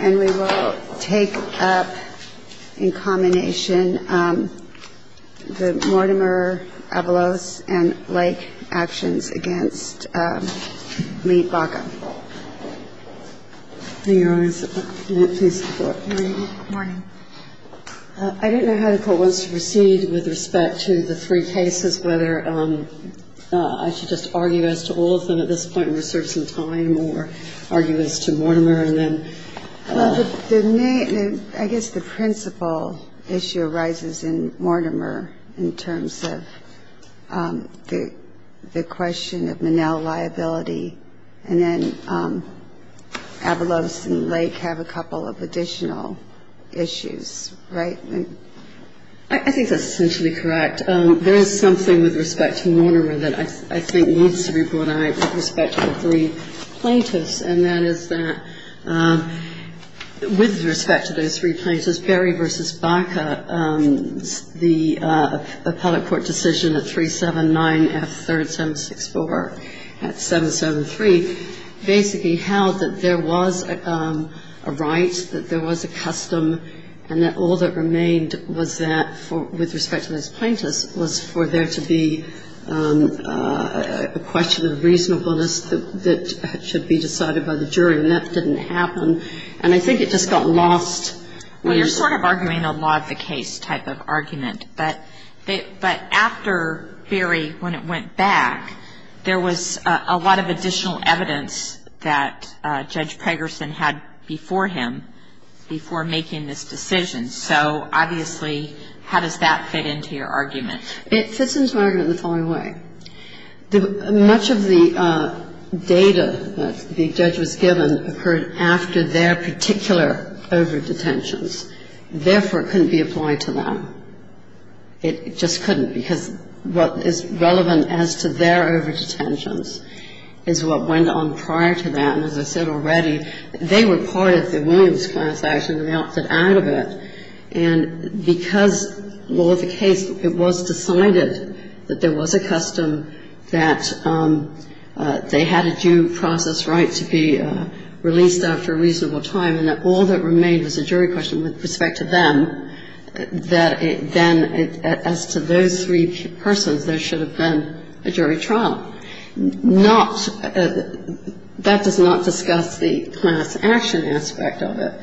We will take up in combination the Mortimer, Avalos, and Lake actions against Lee Baca. Good morning. I don't know how the Court wants to proceed with respect to the three cases, whether I should just argue as to Oliphant at this point and reserve some time or argue as to Mortimer? I guess the principal issue arises in Mortimer in terms of the question of Manel liability, and then Avalos and Lake have a couple of additional issues, right? I think that's essentially correct. But there is something with respect to Mortimer that I think needs to be brought out with respect to the three plaintiffs, and that is that with respect to those three plaintiffs, Berry v. Baca, the appellate court decision at 379F3764 at 773 basically held that there was a right, that there was a custom, and that all that was for there to be a question of reasonableness that should be decided by the jury, and that didn't happen. And I think it just got lost. Well, you're sort of arguing a law of the case type of argument. But after Berry, when it went back, there was a lot of additional evidence that Judge Pegerson had before him before making this decision. So obviously, how does that fit into your argument? It fits into my argument the following way. Much of the data that the judge was given occurred after their particular over-detentions. Therefore, it couldn't be applied to them. It just couldn't, because what is relevant as to their over-detentions is what went on prior to that. And so, in the case of the Williams family, the Williams family, as I said already, they were part of the Williams class, actually, when they opted out of it. And because law of the case, it was decided that there was a custom that they had a due process right to be released after a reasonable time, and that all that remained was a jury question with respect to them, that it then, as to those three persons, there should have been a jury trial. Not that does not discuss the class action aspect of it.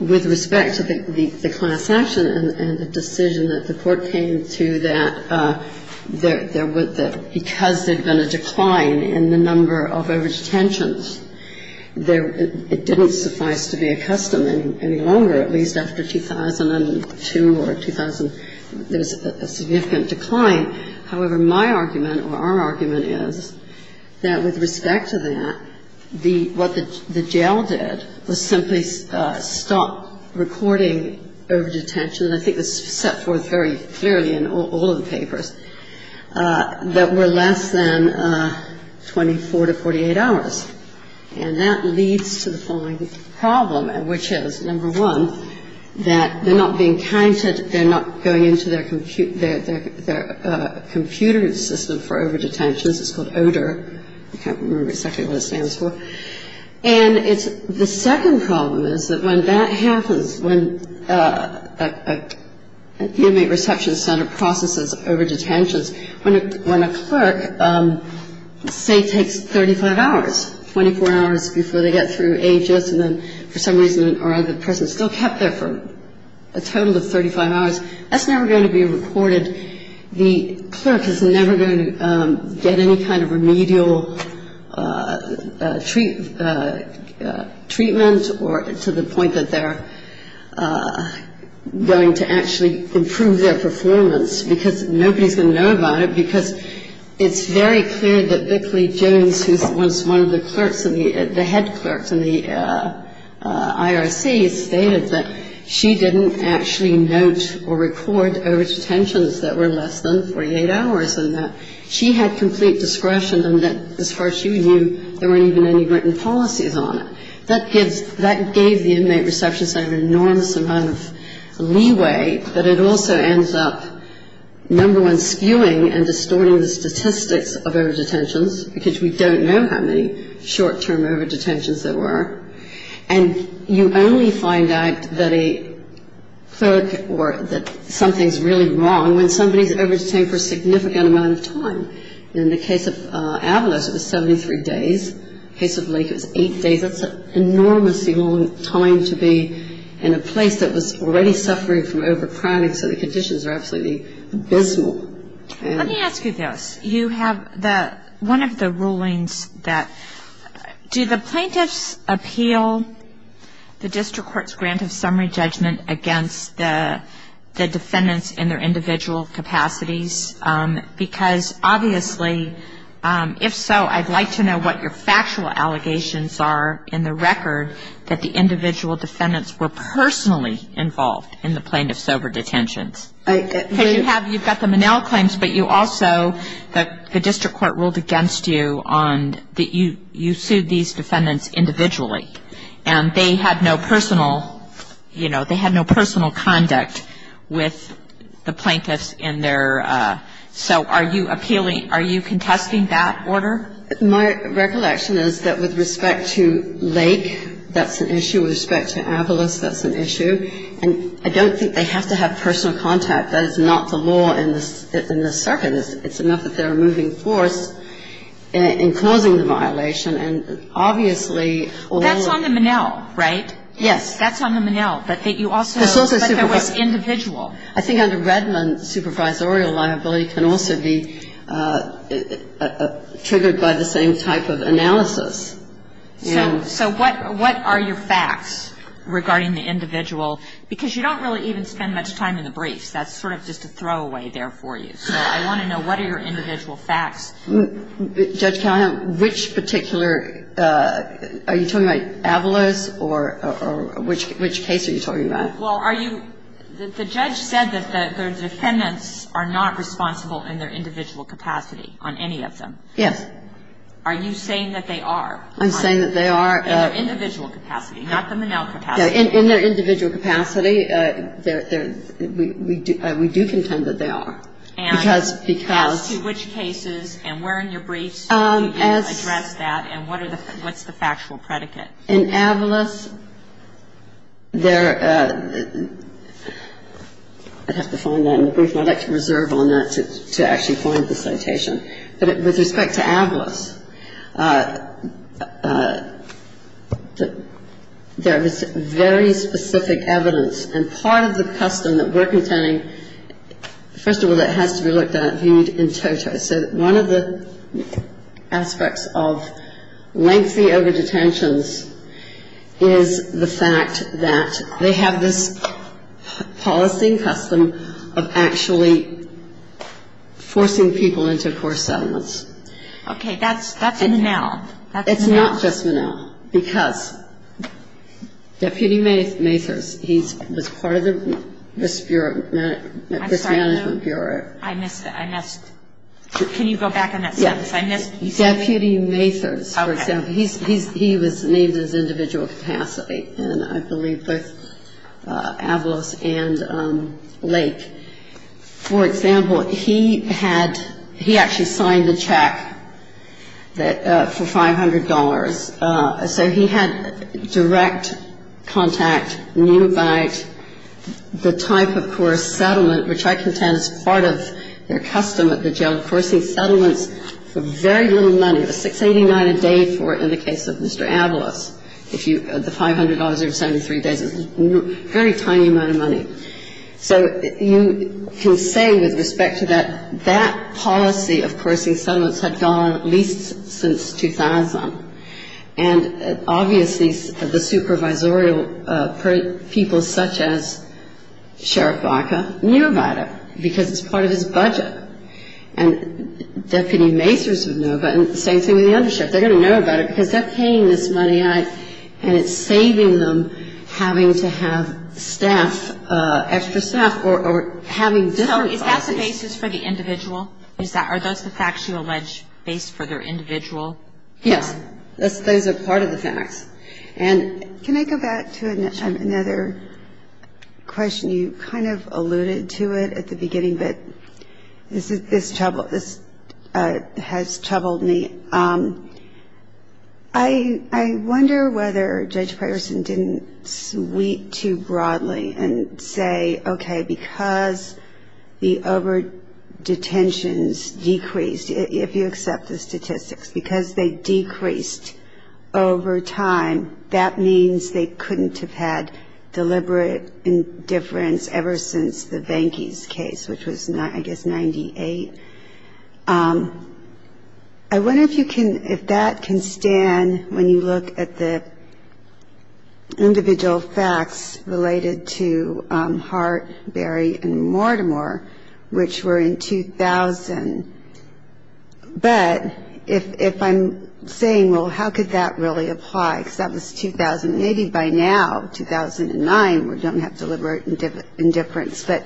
With respect to the class action and the decision that the Court came to that there would be, because there had been a decline in the number of over-detentions, it didn't suffice to be a custom any longer, at least after 2002 or 2000. There was a significant decline. However, my argument or our argument is that with respect to that, what the jail did was simply stop recording over-detention, and I think this was set forth very clearly in all of the papers, that were less than 24 to 48 hours. And that leads to the following problem, which is, number one, that they're not being counted. They're not going into their computer system for over-detentions. It's called ODER. I can't remember exactly what it stands for. And it's the second problem is that when that happens, when an inmate reception center processes over-detentions, when a clerk, say, takes 35 hours, 24 hours before they get through ages, and then for some reason or other the person is still kept there for a total of 35 hours, that's never going to be recorded. The clerk is never going to get any kind of remedial treatment or to the point that they're going to actually improve their performance because nobody's going to know about it because it's very clear that Bickley-Jones, who was one of the clerks, the head clerks in the IRC, stated that she didn't actually note or record over-detentions that were less than 48 hours and that she had complete discretion and that, as far as she knew, there weren't even any written policies on it. That gave the inmate reception center an enormous amount of leeway, but it also ends up, number one, skewing and distorting the statistics of over-detentions because we don't know how many short-term over-detentions there were, and you only find out that a clerk or that something's really wrong when somebody's over-detained for a significant amount of time. In the case of Avalos, it was 73 days. In the case of Lake, it was eight days. That's an enormously long time to be in a place that was already suffering from overcrowding, so the conditions are absolutely abysmal. Let me ask you this. You have one of the rulings that do the plaintiffs appeal the district court's grant of summary judgment against the defendants in their individual capacities because, obviously, if so, I'd like to know what your factual allegations are in the record that the individual defendants were personally involved in the plaintiff's over-detentions. You've got the Monell claims, but you also, the district court ruled against you on that you sued these defendants individually, And they had no personal, you know, they had no personal conduct with the plaintiffs in their So are you appealing, are you contesting that order? My recollection is that with respect to Lake, that's an issue. With respect to Avalos, that's an issue. And I don't think they have to have personal contact. That is not the law in this circuit. It's enough that they're a moving force in causing the violation. And obviously, although That's on the Monell, right? Yes. That's on the Monell. But you also, but there was individual. I think under Redmond, supervisorial liability can also be triggered by the same type of analysis. So what are your facts regarding the individual? Because you don't really even spend much time in the briefs. That's sort of just a throwaway there for you. So I want to know what are your individual facts. Judge Callahan, which particular, are you talking about Avalos or which case are you talking about? Well, are you, the judge said that the defendants are not responsible in their individual capacity on any of them. Yes. Are you saying that they are? I'm saying that they are. In their individual capacity, not the Monell capacity. In their individual capacity, we do contend that they are. And as to which cases and where in your briefs do you address that and what are the, what's the factual predicate? In Avalos, there, I'd have to find that in the brief, and I'd like to reserve on that to actually find the citation. But with respect to Avalos, there is very specific evidence. And part of the custom that we're containing, first of all, that has to be looked at and viewed in totos. So one of the aspects of lengthy overdetentions is the fact that they have this policy and custom of actually forcing people into poor settlements. Okay. That's Monell. That's Monell. Because Deputy Mathers, he was part of the Risk Management Bureau. I'm sorry. I missed it. I missed. Can you go back on that sentence? Yes. Deputy Mathers, for example, he was named as individual capacity. And I believe both Avalos and Lake. For example, he had, he actually signed the check that, for $500. So he had direct contact, knew about the type of poor settlement, which I contend is part of their custom at the jail, forcing settlements for very little money. It was $689 a day for, in the case of Mr. Avalos, if you, the $500 over 73 days is a very tiny amount of money. So you can say with respect to that, that policy of forcing settlements had gone at least since 2000. And obviously the supervisorial people such as Sheriff Baca knew about it because it's part of his budget. And Deputy Mathers would know about it, and the same thing with the undersheriff. They're going to know about it because they're paying this money out, and it's saving them having to have staff, extra staff, or having different policies. So is that the basis for the individual? Are those the facts you allege based for their individual? Yes. Those are part of the facts. And can I go back to another question? You kind of alluded to it at the beginning, but this has troubled me. I wonder whether Judge Progerson didn't sweep too broadly and say, okay, because the overt detentions decreased, if you accept the statistics, because they decreased over time, that means they couldn't have had deliberate indifference ever since the Vankies case, which was, I guess, 98. I wonder if that can stand when you look at the individual facts related to Hart, Berry, and Mortimer, which were in 2000. But if I'm saying, well, how could that really apply? Because that was 2008, and maybe by now, 2009, we don't have deliberate indifference. But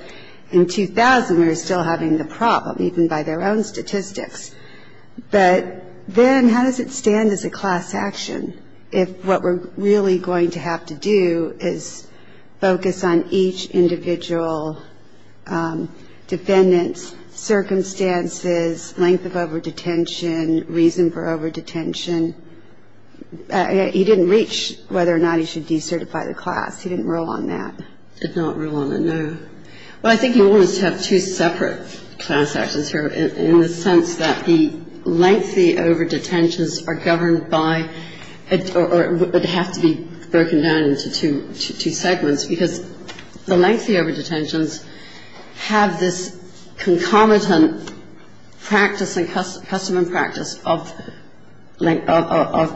in 2000, we were still having the problem, even by their own statistics. But then how does it stand as a class action if what we're really going to have to do is focus on each individual defendant's length of over-detention, reason for over-detention? He didn't reach whether or not he should decertify the class. He didn't rule on that. He did not rule on it, no. Well, I think you almost have two separate class actions here in the sense that the lengthy over-detentions are governed by or would have to be broken down into two segments because the lengthy over-detentions have this concomitant practice and custom and practice of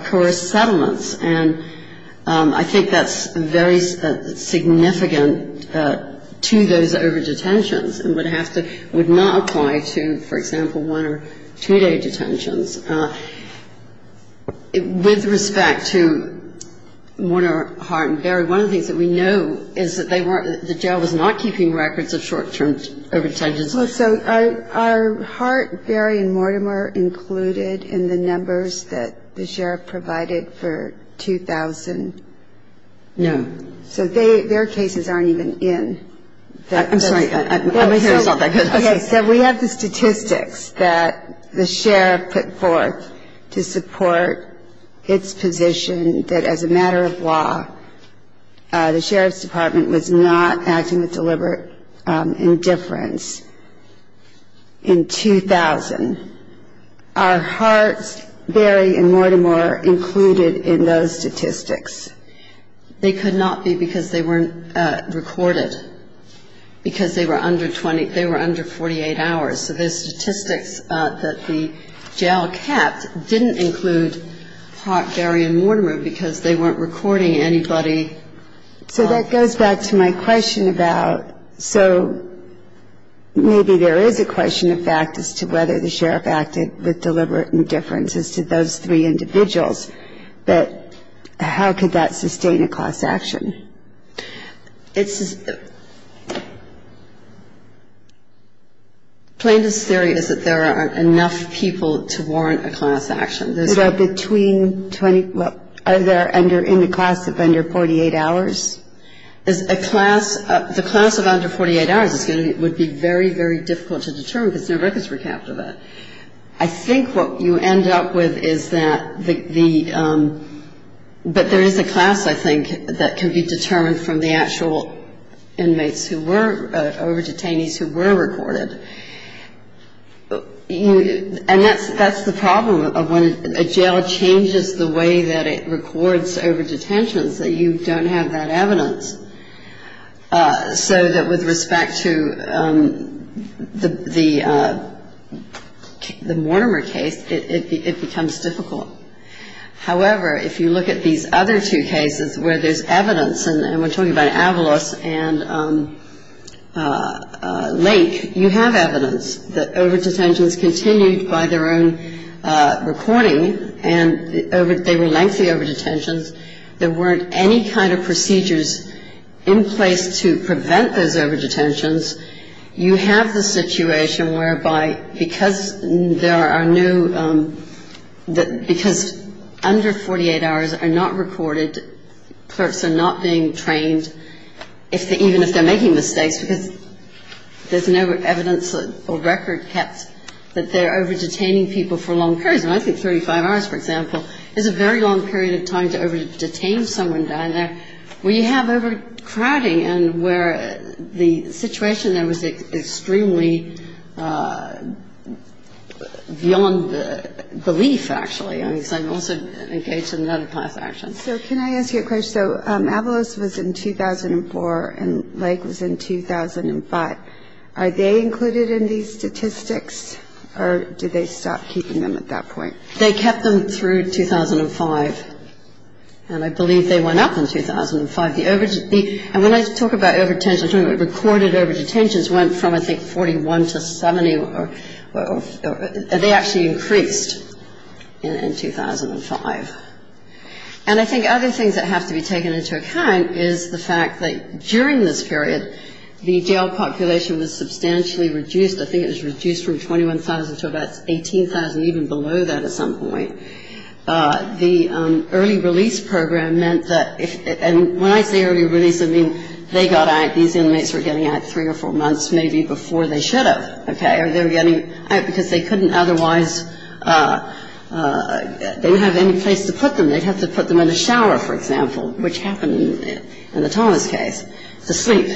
coerced settlements. And I think that's very significant to those over-detentions and would not apply to, for example, one- or two-day detentions. With respect to Mortimer, Hart, and Berry, one of the things that we know is that they weren't that the jail was not keeping records of short-term over-detentions. Well, so are Hart, Berry, and Mortimer included in the numbers that the sheriff provided for 2000? No. So their cases aren't even in. I'm sorry. My hearing's not that good. Okay, so we have the statistics that the sheriff put forth to support its position that as a matter of law, the sheriff's department was not acting with deliberate indifference in 2000. Are Hart, Berry, and Mortimer included in those statistics? They could not be because they weren't recorded because they were under 48 hours. So those statistics that the jail kept didn't include Hart, Berry, and Mortimer because they weren't recording anybody. So that goes back to my question about so maybe there is a question of fact as to whether the sheriff acted with deliberate indifference as to those three individuals. But how could that sustain a class action? Plaintiff's theory is that there aren't enough people to warrant a class action. There's not between 20 – well, are there in the class of under 48 hours? The class of under 48 hours would be very, very difficult to determine because no records were kept of that. I think what you end up with is that the – but there is a class, I think, that can be determined from the actual inmates who were – over-detainees who were recorded. And that's the problem of when a jail changes the way that it records over-detentions, that you don't have that evidence. So that with respect to the Mortimer case, it becomes difficult. However, if you look at these other two cases where there's evidence, and we're talking about Avalos and Lake, you have evidence that over-detentions continued by their own recording and they were lengthy over-detentions. There weren't any kind of procedures in place to prevent those over-detentions. You have the situation whereby because there are no – because under 48 hours are not recorded, clerks are not being trained, even if they're making mistakes, because there's no evidence or record kept that they're over-detaining people for long periods. And I think 35 hours, for example, is a very long period of time to over-detain someone down there, where you have overcrowding and where the situation there was extremely beyond belief, actually. I mean, so I'm also engaged in another class action. So can I ask you a question? So Avalos was in 2004 and Lake was in 2005. Are they included in these statistics, or did they stop keeping them at that point? They kept them through 2005, and I believe they went up in 2005. And when I talk about over-detentions, I'm talking about recorded over-detentions went from, I think, 41 to 70. They actually increased in 2005. And I think other things that have to be taken into account is the fact that during this period, the jail population was substantially reduced. I think it was reduced from 21,000 to about 18,000, even below that at some point. The early release program meant that if – and when I say early release, I mean they got out, these inmates were getting out three or four months maybe before they should have, okay, or they were getting out because they couldn't otherwise – they didn't have any place to put them. They'd have to put them in a shower, for example, which happened in the Thomas case, to sleep,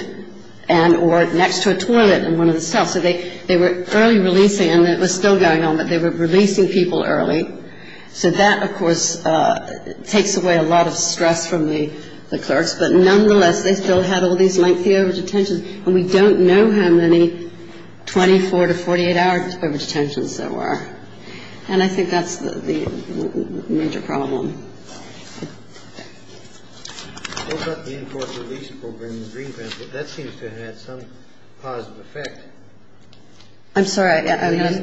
and – or next to a toilet in one of the cells. So they were early releasing, and it was still going on, but they were releasing people early. So that, of course, takes away a lot of stress from the clerks. But nonetheless, they still had all these lengthy over-detentions, and we don't know how many 24- to 48-hour over-detentions there were. And I think that's the major problem. What about the in-court release program in the Green Band? That seems to have had some positive effect. I'm sorry.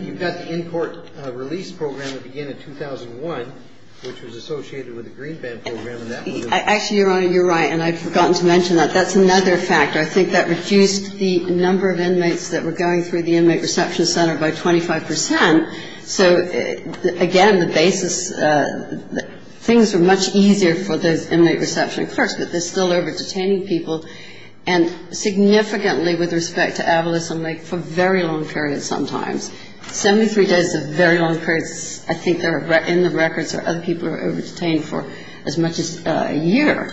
You've got the in-court release program that began in 2001, which was associated with the Green Band program, and that was – Actually, Your Honor, you're right, and I've forgotten to mention that. That's another factor. I think that reduced the number of inmates that were going through the Inmate Reception Center by 25 percent. So, again, the basis – things were much easier for those inmate reception clerks, but they're still over-detaining people, and significantly with respect to abolition, like for very long periods sometimes. Seventy-three days is a very long period. I think there are – in the records, there are other people who are over-detained for as much as a year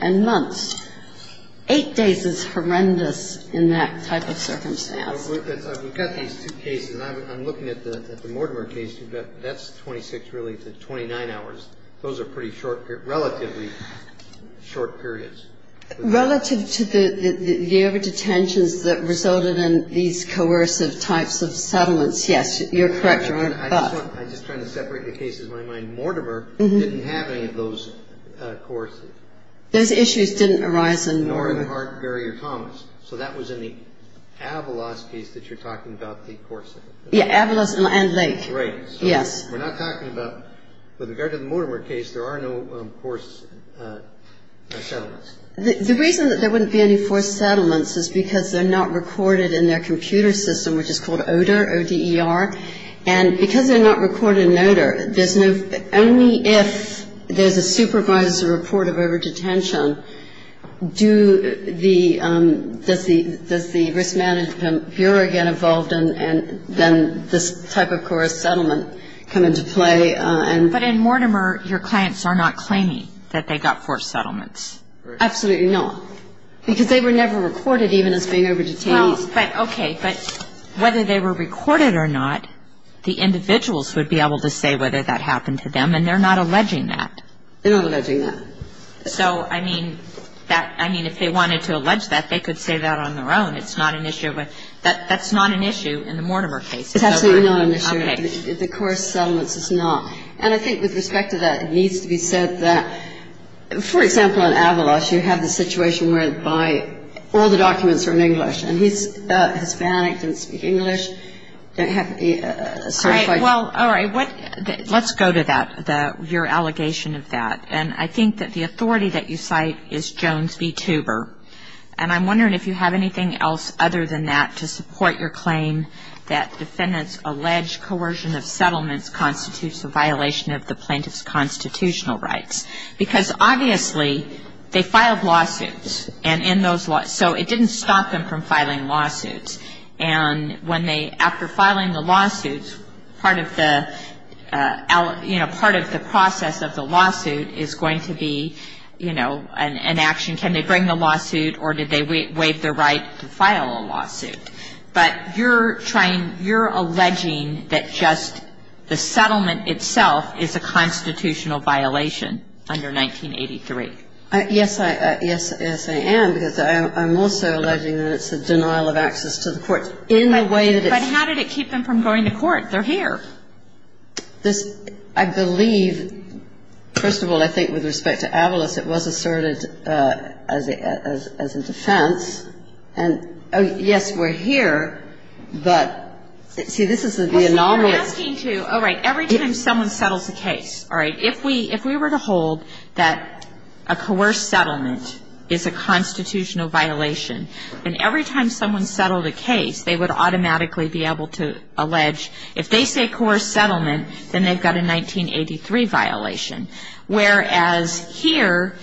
and months. Eight days is horrendous in that type of circumstance. We've got these two cases. I'm looking at the Mortimer case. That's 26, really, to 29 hours. Those are pretty short – relatively short periods. Relative to the over-detentions that resulted in these coercive types of settlements, yes. You're correct, Your Honor. I just want – I'm just trying to separate the cases in my mind. Mortimer didn't have any of those coercive. Those issues didn't arise in Mortimer. Nor in Hart, Berry, or Thomas. So that was in the Avalos case that you're talking about the coercive. Yeah, Avalos and Lake. Right. Yes. We're not talking about – with regard to the Mortimer case, there are no coerced settlements. The reason that there wouldn't be any coerced settlements is because they're not recorded in their computer system, which is called ODER, O-D-E-R. And because they're not recorded in ODER, there's no – only if there's a supervisor's report of over-detention on do the – does the – does the risk management bureau get involved and then this type of coerced settlement come into play and – But in Mortimer, your clients are not claiming that they got coerced settlements. Absolutely not. Because they were never recorded even as being over-detained. Well, but – okay. But whether they were recorded or not, the individuals would be able to say whether that happened to them, and they're not alleging that. They're not alleging that. So, I mean, that – I mean, if they wanted to allege that, they could say that on their own. It's not an issue of a – that's not an issue in the Mortimer case. It's absolutely not an issue. Okay. The coerced settlements is not. And I think with respect to that, it needs to be said that, for example, in Avalos, you have the situation where by – all the documents are in English, and he's Hispanic, doesn't speak English, doesn't have a certified – All right. Well, all right. Let's go to that, your allegation of that. And I think that the authority that you cite is Jones v. Tuber. And I'm wondering if you have anything else other than that to support your claim that defendants' alleged coercion of settlements constitutes a violation of the plaintiff's constitutional rights. Because, obviously, they filed lawsuits, and in those – so it didn't stop them from filing lawsuits. And when they – after filing the lawsuits, part of the – you know, part of the process of the lawsuit is going to be, you know, an action. Can they bring the lawsuit, or did they waive their right to file a lawsuit? But you're trying – you're alleging that just the settlement itself is a constitutional violation under 1983. Yes, I – yes, I am, because I'm also alleging that it's a denial of access to the court in the way that it's – But how did it keep them from going to court? They're here. This – I believe, first of all, I think with respect to Avalos, it was asserted as a defense. And, oh, yes, we're here, but, see, this is the anomalous – We're asking to – oh, right, every time someone settles a case. All right. If we were to hold that a coerced settlement is a constitutional violation, then every time someone settled a case, they would automatically be able to allege if they say coerced settlement, then they've got a 1983 violation. Whereas here,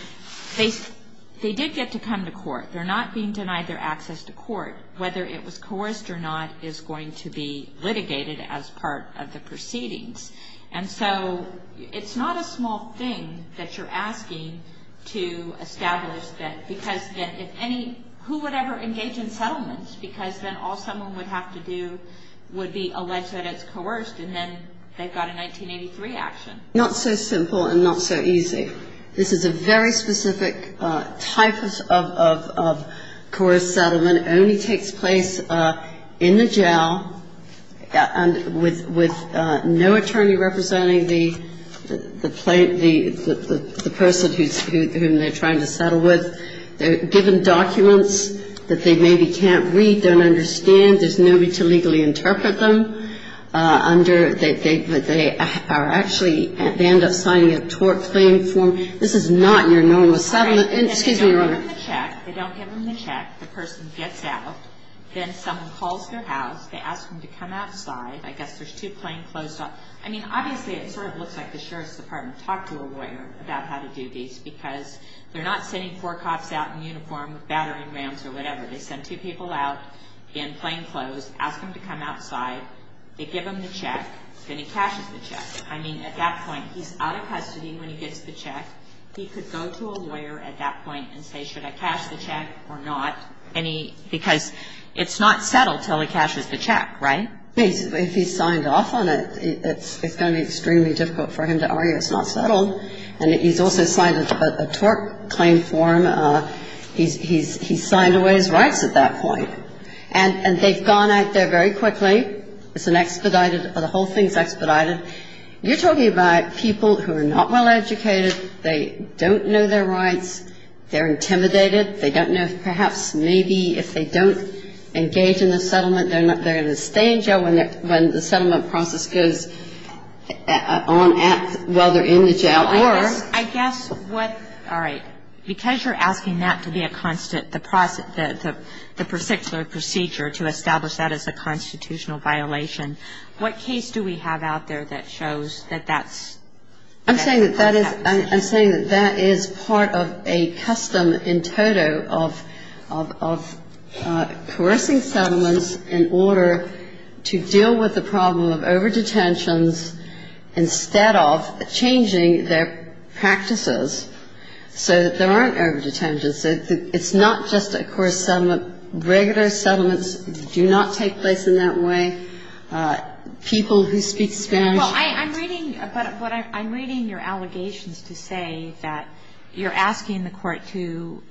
they did get to come to court. They're not being denied their access to court. Whether it was coerced or not is going to be litigated as part of the proceedings. And so it's not a small thing that you're asking to establish that – because if any – who would ever engage in settlements? Because then all someone would have to do would be allege that it's coerced, and then they've got a 1983 action. Not so simple and not so easy. This is a very specific type of coerced settlement. It only takes place in the jail and with no attorney representing the person whom they're trying to settle with. They're given documents that they maybe can't read, don't understand. There's nobody to legally interpret them. They are actually – they end up signing a tort claim for them. This is not your normal settlement. Excuse me, Your Honor. They don't give them the check. They don't give them the check. The person gets out. Then someone calls their house. They ask them to come outside. I guess there's two plainclothes. I mean, obviously, it sort of looks like the Sheriff's Department talked to a lawyer about how to do these because they're not sending four cops out in uniform with battering rams or whatever. They send two people out in plainclothes, ask them to come outside. They give them the check. Then he cashes the check. I mean, at that point, he's out of custody when he gets the check. He could go to a lawyer at that point and say, should I cash the check or not? Because it's not settled until he cashes the check, right? If he's signed off on it, it's going to be extremely difficult for him to argue it's not settled. And he's also signed a tort claim for him. He signed away his rights at that point. And they've gone out there very quickly. It's an expedited or the whole thing's expedited. You're talking about people who are not well-educated. They don't know their rights. They're intimidated. They don't know if perhaps maybe if they don't engage in the settlement, they're in this danger when the settlement process goes on while they're in the jail. But you're saying that the prosecution would have to go through the court process whether or not the settlement process works. I guess what all right, because you're asking that to be a constant, the process that the particular procedure to establish that as a constitutional violation, I'm saying that that is part of a custom in total of coercing settlements in order to deal with the problem of overdetentions instead of changing their practices so that there aren't overdetentions. It's not just a coerced settlement. Regular settlements do not take place in that way. People who speak Spanish. I'm reading your allegations to say that you're asking the court to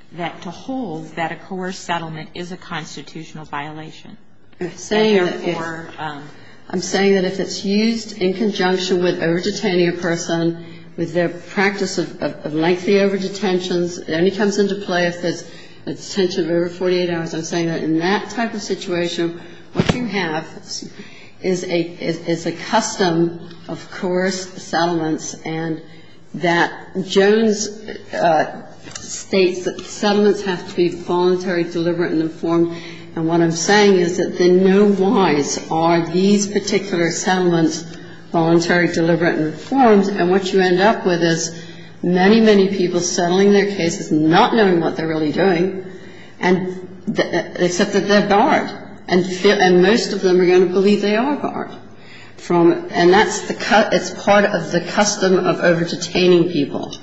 hold that a coerced settlement is a constitutional violation. I'm saying that if it's used in conjunction with overdetaining a person, with their practice of lengthy overdetentions, it only comes into play if it's detention of over 48 hours. I'm saying that in that type of situation, what you have is a custom of coerced settlements and that Jones states that settlements have to be voluntary, deliberate and informed, and what I'm saying is that there are no whys. Are these particular settlements voluntary, deliberate and informed, and what you end up with is many, many people settling their cases not knowing what they're really doing, except that they're barred, and most of them are going to believe they are barred. And that's the cut. It's part of the custom of overdetaining people.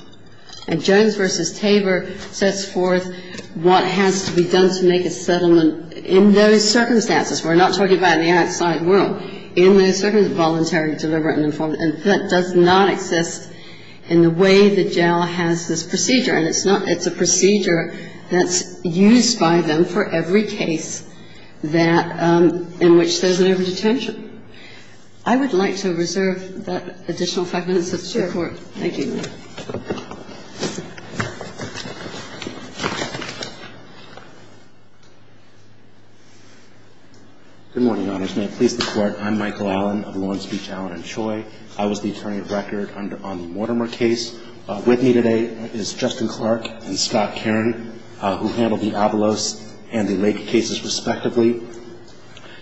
And Jones v. Tabor sets forth what has to be done to make a settlement in those circumstances. We're not talking about in the outside world. In those circumstances, voluntary, deliberate and informed, and that does not exist in the way that jail has this procedure, and it's not — it's a procedure that's used by them for every case that — in which there's an overdetention. I would like to reserve that additional five minutes of the Court. Thank you. Good morning, Your Honors. May it please the Court, I'm Michael Allen of Law and Speech Allen & Choi. I was the attorney of record on the Mortimer case. With me today is Justin Clark and Scott Caron, who handled the Avalos and the Lake cases, respectively.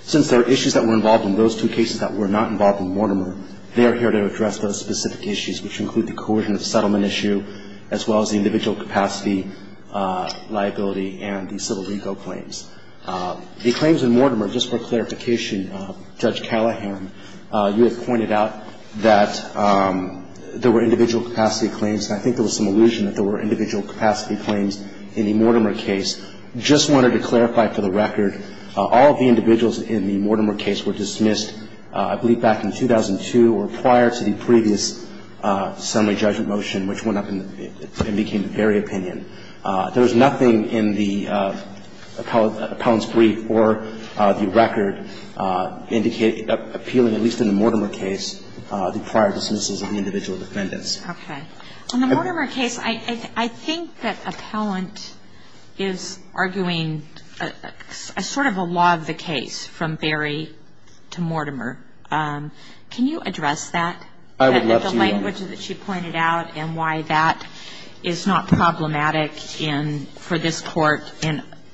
Since there are issues that were involved in those two cases that were not involved in Mortimer, they are here to address those specific issues, which include the coercion of settlement issue, as well as the individual capacity claim liability and the civil legal claims. The claims in Mortimer, just for clarification, Judge Callahan, you have pointed out that there were individual capacity claims, and I think there was some illusion that there were individual capacity claims in the Mortimer case. Just wanted to clarify for the record, all of the individuals in the Mortimer case were dismissed, I believe, back in 2002 or prior to the previous summary judgment motion, which went up and became the Berry opinion. There was nothing in the appellant's brief or the record appealing, at least in the Mortimer case, the prior dismissals of the individual defendants. Okay. In the Mortimer case, I think that appellant is arguing sort of a law of the case from Berry to Mortimer. Can you address that? I would love to, Your Honor. The language that she pointed out and why that is not problematic for this Court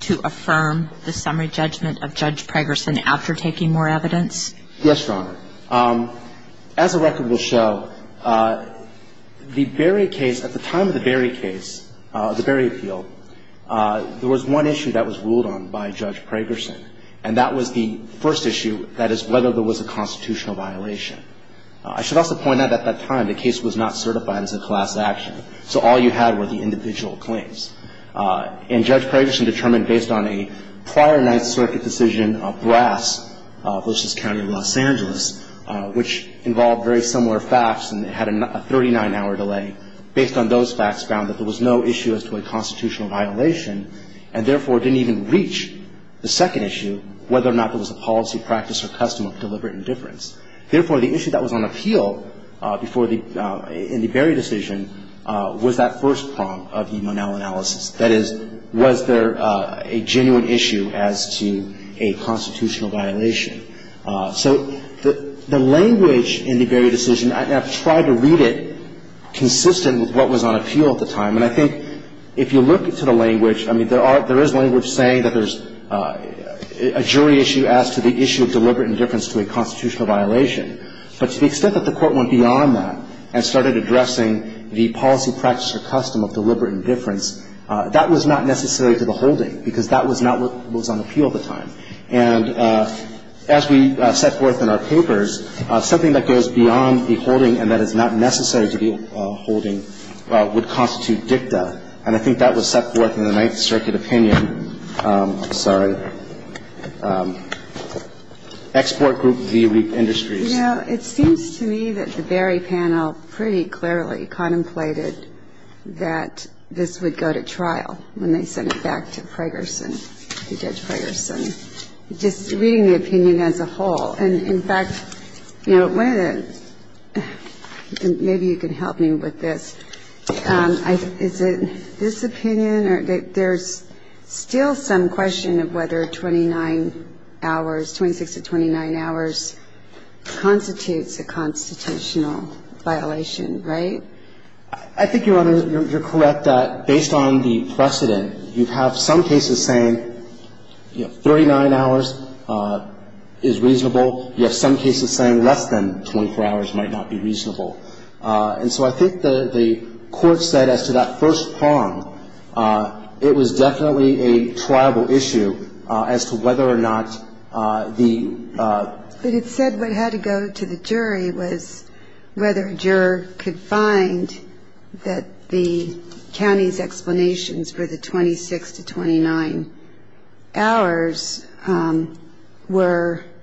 to affirm the summary judgment of Judge Pragerson after taking more evidence? Yes, Your Honor. As the record will show, the Berry case, at the time of the Berry case, the Berry appeal, there was one issue that was ruled on by Judge Pragerson, and that was the first issue, that is, whether there was a constitutional violation. I should also point out at that time the case was not certified as a class action, so all you had were the individual claims. And Judge Pragerson determined based on a prior Ninth Circuit decision, Brass v. County of Los Angeles, which involved very similar facts and had a 39-hour delay, based on those facts found that there was no issue as to a constitutional violation, and therefore didn't even reach the second issue, whether or not there was a policy, practice, or custom of deliberate indifference. Therefore, the issue that was on appeal before the — in the Berry decision was that first prompt of email analysis, that is, was there a genuine issue as to a constitutional violation. So the language in the Berry decision, and I've tried to read it consistent with what was on appeal at the time, and I think if you look to the language, I mean, there is language saying that there's a jury issue as to the issue of deliberate indifference to a constitutional violation. But to the extent that the Court went beyond that and started addressing the policy, practice, or custom of deliberate indifference, that was not necessary to the holding, because that was not what was on appeal at the time. And as we set forth in our papers, something that goes beyond the holding and that is not necessary to the holding would constitute dicta. And I think that was set forth in the Ninth Circuit opinion. Sorry. Export Group v. REAP Industries. Yeah. It seems to me that the Berry panel pretty clearly contemplated that this would go to trial when they sent it back to Fragerson, to Judge Fragerson, just reading the opinion as a whole. And, in fact, you know, one of the – maybe you can help me with this. Is it this opinion, or there's still some question of whether 29 hours, 26 to 29 hours, constitutes a constitutional violation, right? I think, Your Honor, you're correct that based on the precedent, you have some cases saying, you know, 39 hours is reasonable. You have some cases saying less than 24 hours might not be reasonable. And so I think the Court said as to that first prong, it was definitely a triable issue as to whether or not the – But it said what had to go to the jury was whether a juror could find that the county's 29 hours were –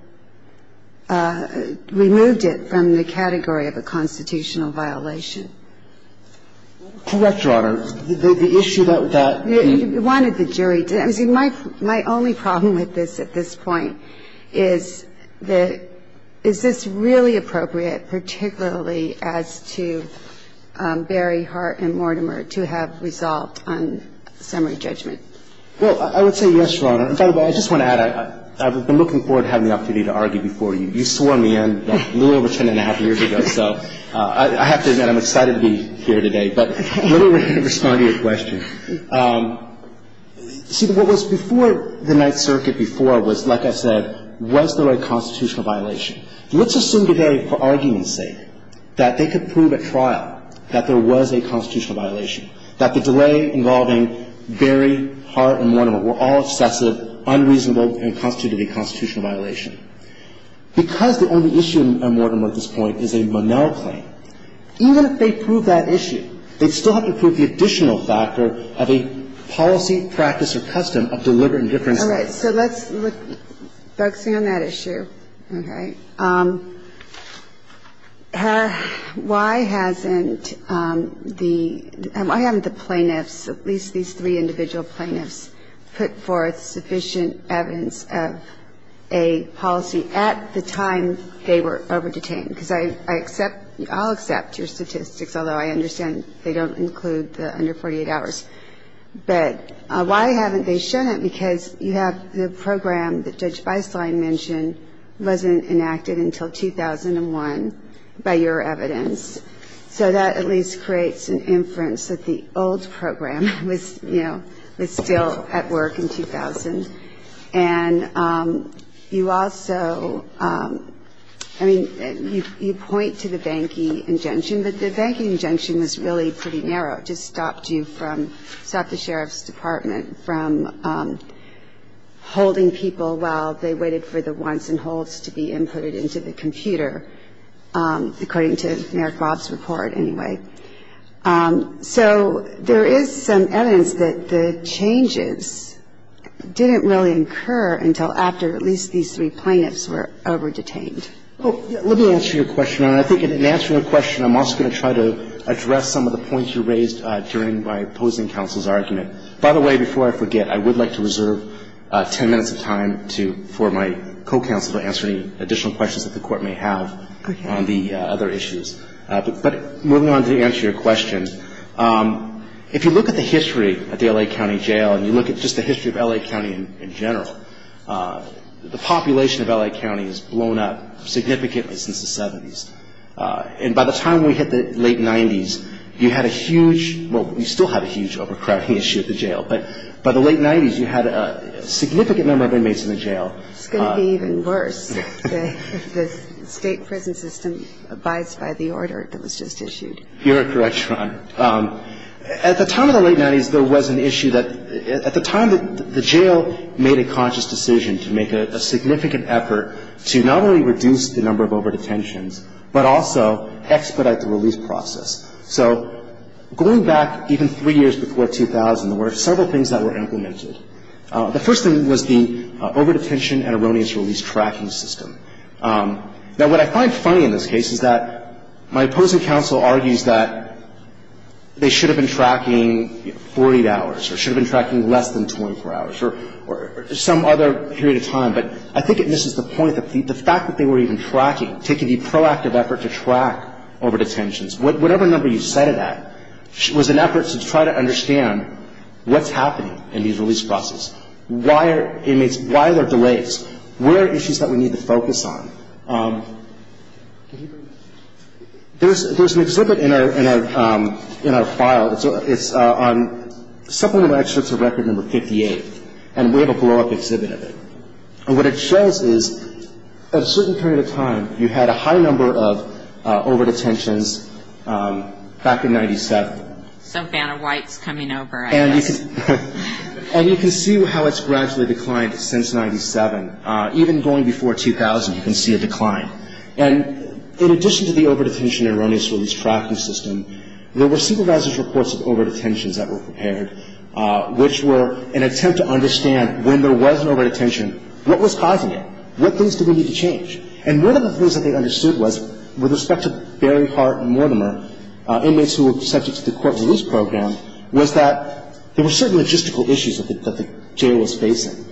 removed it from the category of a constitutional violation. Correct, Your Honor. The issue that that – You wanted the jury to – I mean, see, my only problem with this at this point is that is this really appropriate, particularly as to Berry, Hart, and Mortimer, to have resolved on summary judgment? Well, I would say yes, Your Honor. And by the way, I just want to add, I've been looking forward to having the opportunity to argue before you. You swore me in a little over ten and a half years ago, so I have to admit, I'm excited to be here today. But let me respond to your question. See, what was before the Ninth Circuit before was, like I said, was there a constitutional violation? Let's assume today, for argument's sake, that they could prove at trial that there was a constitutional violation, that the delay involving Berry, Hart, and Mortimer were all excessive, unreasonable, and constituted a constitutional violation. Because the only issue in Mortimer at this point is a Monell claim, even if they prove that issue, they'd still have to prove the additional factor of a policy, practice, or custom of deliberate indifference. All right. So let's look, focusing on that issue, okay, why hasn't the, why haven't the plaintiffs, at least these three individual plaintiffs, put forth sufficient evidence of a policy at the time they were over-detained? Because I accept, I'll accept your statistics, although I understand they don't include the under 48 hours. But why haven't they shown it? Because you have the program that Judge Beisle mentioned wasn't enacted until 2001 by your evidence. So that at least creates an inference that the old program was, you know, was still at work in 2000. And you also, I mean, you point to the Bankey injunction, but the Bankey injunction was really pretty narrow. It just stopped you from, stopped the sheriff's department from holding people while they waited for the once and holds to be inputted into the computer, according to Merrick Bobb's report anyway. So there is some evidence that the changes didn't really incur until after at least these three plaintiffs were over-detained. Well, let me answer your question. And I think in answering your question, I'm also going to try to address some of the points you raised during my opposing counsel's argument. By the way, before I forget, I would like to reserve ten minutes of time for my co-counsel to answer any additional questions that the Court may have on the other issues. Okay. But moving on to answer your question, if you look at the history at the L.A. County Jail and you look at just the history of L.A. County in general, the population of L.A. County has blown up significantly since the 70s. And by the time we hit the late 90s, you had a huge, well, you still had a huge overcrowding issue at the jail, but by the late 90s, you had a significant number of inmates in the jail. It's going to be even worse if the State prison system abides by the order that was just issued. You're correct, Your Honor. At the time of the late 90s, there was an issue that the jail made a conscious decision to make a significant effort to not only reduce the number of overdetentions, but also expedite the release process. So going back even three years before 2000, there were several things that were implemented. The first thing was the overdetention and erroneous release tracking system. Now, what I find funny in this case is that my opposing counsel argues that they should have been tracking less than 24 hours or some other period of time, but I think it misses the point that the fact that they were even tracking, taking the proactive effort to track overdetentions, whatever number you set it at, was an effort to try to understand what's happening in the release process. Why are inmates, why are there delays? What are issues that we need to focus on? There's an exhibit in our file. It's on Supplemental Extracts of Record No. 58, and we have a blowup exhibit of it. And what it shows is a certain period of time, you had a high number of overdetentions back in 97. So Banner White's coming over, I guess. And you can see how it's gradually declined since 97. Even going before 2000, you can see a decline. And in addition to the overdetention and erroneous release tracking system, there were supervisor's reports of overdetentions that were prepared, which were an attempt to understand when there was an overdetention, what was causing it? What things do we need to change? And one of the things that they understood was, with respect to Barry Hart and Mortimer, inmates who were subject to the court release program, was that there were certain logistical issues that the jail was facing.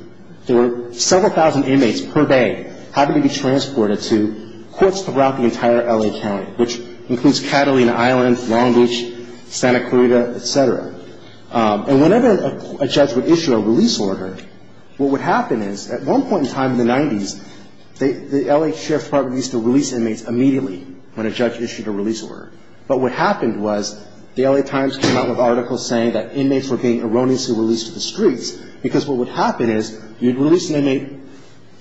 There were several thousand inmates per day having to be transported to courts throughout the entire L.A. County, which includes Catalina Island, Long Beach, Santa Clarita, et cetera. And whenever a judge would issue a release order, what would happen is, at one point in time in the 90s, the L.A. Sheriff's Department used to release inmates immediately when a judge issued a release order. But what happened was the L.A. Times came out with articles saying that inmates were being erroneously released to the streets, because what would happen is you'd release an inmate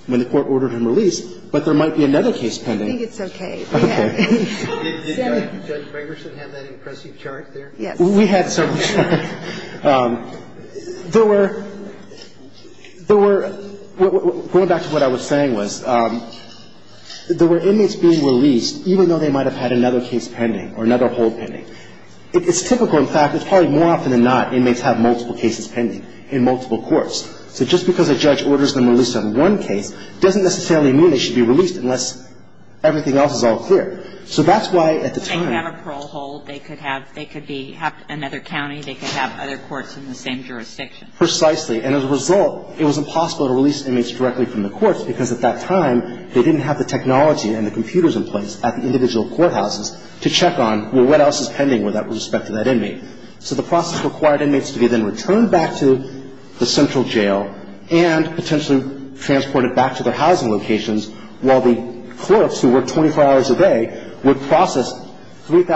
when the court ordered him released, but there might be another case pending. I think it's okay. Okay. Did Judge Gregerson have that impressive chart there? Yes. We had several charts. There were going back to what I was saying was, there were inmates being released even though they might have had another case pending or another hold pending. It's typical, in fact, it's probably more often than not, inmates have multiple cases pending in multiple courts. So just because a judge orders them released on one case doesn't necessarily mean they should be released unless everything else is all clear. So that's why at the time they didn't have the technology and the computers in place at the individual courthouses to check on, well, what else is pending with respect to that inmate. So the process required inmates to be then returned back to the central jail and potentially transported back to their housing locations while the clerks who worked And that's what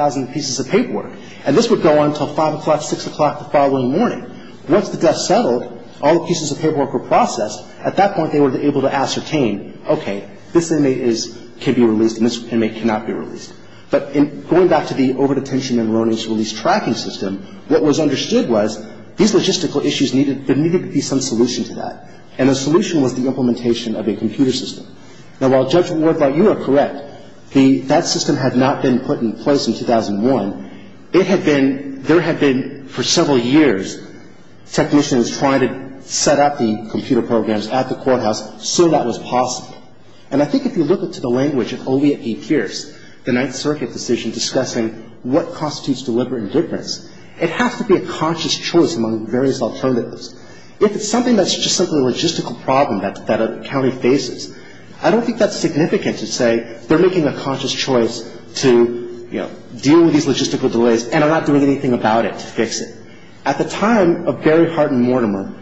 happened. pieces of paperwork. And this would go on until 5 o'clock, 6 o'clock the following morning. Once the death settled, all the pieces of paperwork were processed. At that point they were able to ascertain, okay, this inmate can be released and this inmate cannot be released. But going back to the over-detention and release tracking system, what was understood was these logistical issues needed to be some solution to that. And the solution was the implementation of a computer system. Now, while Judge Ward, while you are correct, that system had not been put in place in 2001. It had been, there had been for several years technicians trying to set up the computer programs at the courthouse so that was possible. And I think if you look into the language of Oviatt v. Pierce, the Ninth Circuit decision discussing what constitutes deliberate indifference, it has to be a conscious choice among various alternatives. If it's something that's just simply a logistical problem that a county faces, I don't think that's significant to say they're making a conscious choice to, you know, deal with these logistical delays and are not doing anything about it to fix it. At the time of Barry Hart and Mortimer,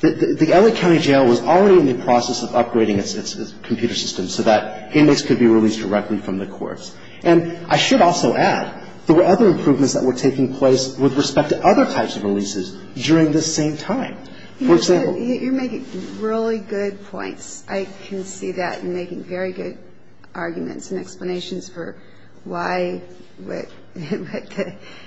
the L.A. County Jail was already in the process of upgrading its computer system so that inmates could be released directly from the courts. And I should also add, there were other improvements that were taking place with respect to other types of releases during this same time. For example. You're making really good points. I can see that. You're making very good arguments and explanations for why the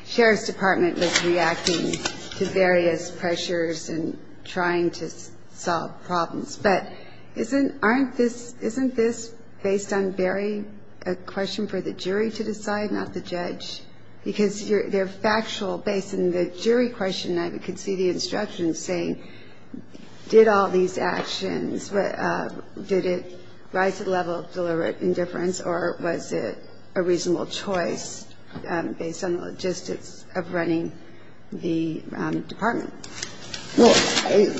Sheriff's Department was reacting to various pressures and trying to solve problems. But isn't, aren't this, isn't this based on Barry, a question for the jury to decide, not the judge? Because they're factual based. And the jury question, I could see the instructions saying, did all these actions, did it rise to the level of deliberate indifference or was it a reasonable choice based on the logistics of running the department? Well,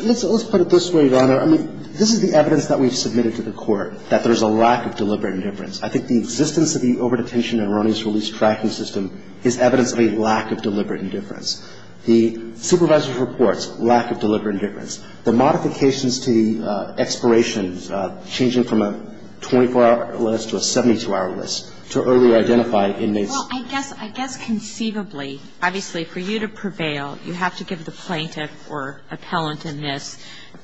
let's put it this way, Your Honor. I mean, this is the evidence that we've submitted to the court, that there's a lack of deliberate indifference. I think the existence of the over-detention and erroneous release tracking system is evidence of a lack of deliberate indifference. The supervisor's reports, lack of deliberate indifference. The modifications to the expiration, changing from a 24-hour list to a 72-hour list to earlier identify inmates. Well, I guess, I guess conceivably, obviously for you to prevail, you have to give the plaintiff or appellant in this,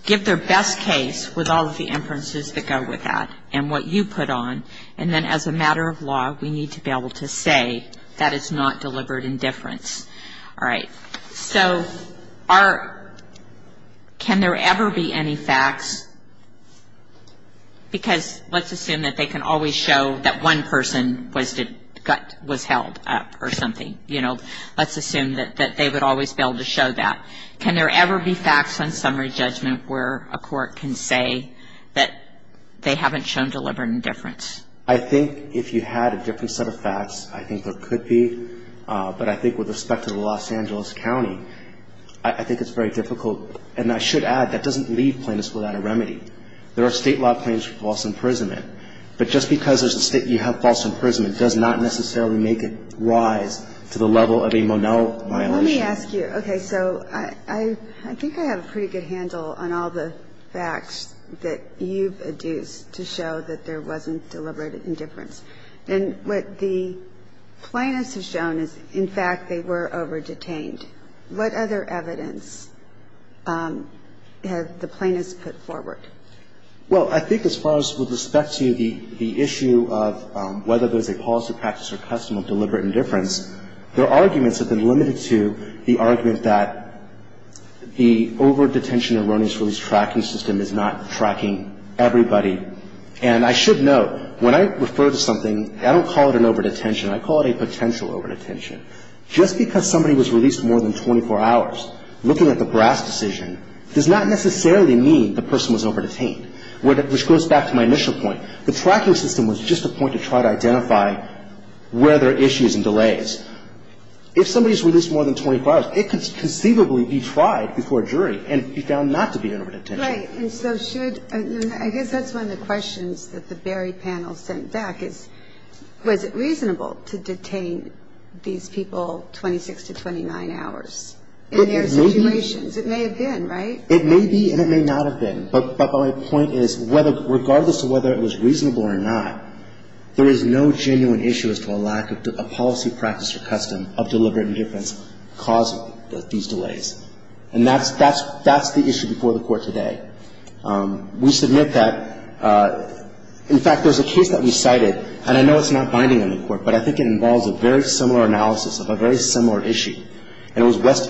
give their best case with all of the inferences that go with that and what you put on. And then as a matter of law, we need to be able to show that there's a lack of deliberate indifference. All right. So are, can there ever be any facts, because let's assume that they can always show that one person was held up or something. You know, let's assume that they would always be able to show that. Can there ever be facts on summary judgment where a court can say that they haven't shown deliberate indifference? I think if you had a different set of facts, I think there could be. But I think with respect to the Los Angeles County, I think it's very difficult. And I should add, that doesn't leave plaintiffs without a remedy. There are State law claims for false imprisonment. But just because there's a State, you have false imprisonment does not necessarily make it wise to the level of a Monel violation. Let me ask you. Okay. So I, I think I have a pretty good handle on all the facts that you've adduced to show that there wasn't deliberate indifference. And what the plaintiffs have shown is, in fact, they were over-detained. What other evidence have the plaintiffs put forward? Well, I think as far as with respect to the issue of whether there's a policy practice or custom of deliberate indifference, their arguments have been limited to the argument that the over-detention erroneous release tracking system is not tracking everybody. And I should note, when I refer to something, I don't call it an over-detention. I call it a potential over-detention. Just because somebody was released more than 24 hours, looking at the brass decision, does not necessarily mean the person was over-detained, which goes back to my initial point. The tracking system was just a point to try to identify where there are issues and delays. If somebody is released more than 24 hours, it could conceivably be tried before a jury and be found not to be over-detention. Right. And so should, I guess that's one of the questions that the Berry panel sent back is, was it reasonable to detain these people 26 to 29 hours in their situations? It may have been, right? It may be and it may not have been, but my point is, regardless of whether it was reasonable or not, there is no genuine issue as to a lack of policy practice or custom of deliberate indifference causing these delays. And that's the issue before the Court today. We submit that, in fact, there's a case that we cited, and I know it's not binding on the Court, but I think it involves a very similar analysis of a very similar analysis as to what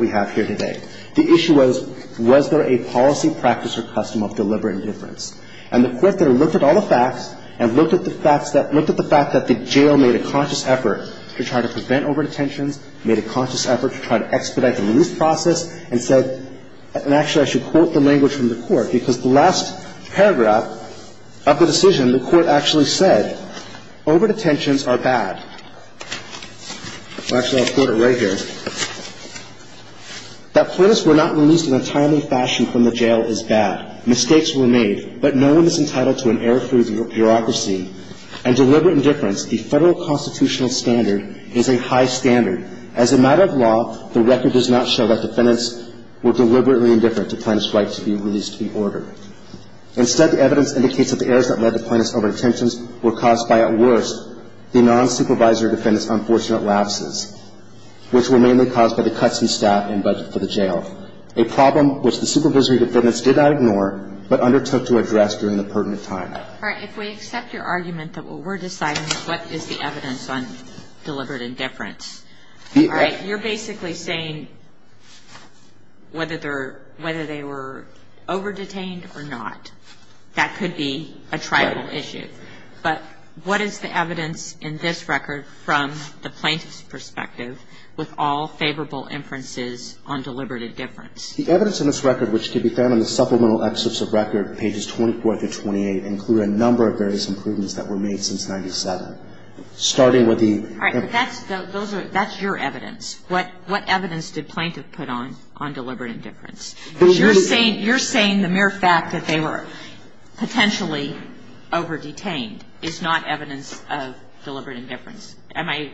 we have here today. The issue was, was there a policy practice or custom of deliberate indifference? And the Court then looked at all the facts and looked at the facts that the jail made a conscious effort to try to prevent custom of deliberate indifference. decided not to release the plaintiffs from prison, but to do the same over detentions, made a conscious effort to try to expedite the relief process and said, and actually I should quote the language from the Court, because the last paragraph of the decision the Court actually said, over detentions are bad. Actually I'll quote it right here. That plaintiffs were not released in a timely fashion from the jail is bad. Mistakes were made, but no one is entitled to an error-free bureaucracy and deliberate indifference. The federal constitutional standard is a high standard. As a matter of law, the record does not show that defendants were deliberately indifferent to plaintiffs' right to be released to be ordered. Instead, the evidence indicates that the errors that led the plaintiffs over detentions were caused by, at worst, the non-supervisor defendants' unfortunate lapses, which were mainly caused by the cuts in staff and budget for the jail, a problem which the supervisory defendants did not ignore, but undertook to address during the pertinent time. All right. If we accept your argument that what we're deciding is what is the evidence on deliberate indifference, all right, you're basically saying whether they were over detained or not, that could be a tribal issue. But what is the evidence in this record from the plaintiff's perspective with all favorable inferences on deliberate indifference? The evidence in this record, which can be found in the Supplemental Excerpts of Record, pages 24 to 28, include a number of various improvements that were made since 1997, starting with the All right. But that's your evidence. What evidence did plaintiff put on deliberate indifference? You're saying the mere fact that they were potentially over detained is not evidence of deliberate indifference. Am I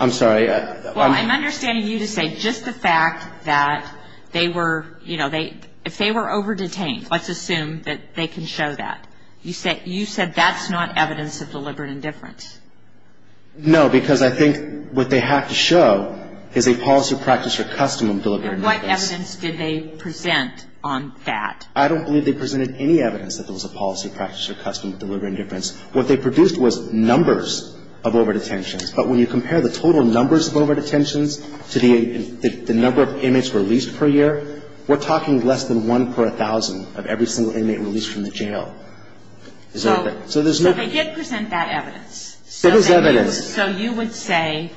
I'm sorry. Well, I'm understanding you to say just the fact that they were, you know, if they were over detained, let's assume that they can show that. You said that's not evidence of deliberate indifference. No, because I think what they have to show is a policy practice or custom of deliberate indifference. And what evidence did they present on that? I don't believe they presented any evidence that there was a policy practice or custom of deliberate indifference. What they produced was numbers of over detentions. But when you compare the total numbers of over detentions to the number of inmates released per year, we're talking less than one per 1,000 of every single inmate released from the jail. So they did present that evidence. It is evidence. So you would say,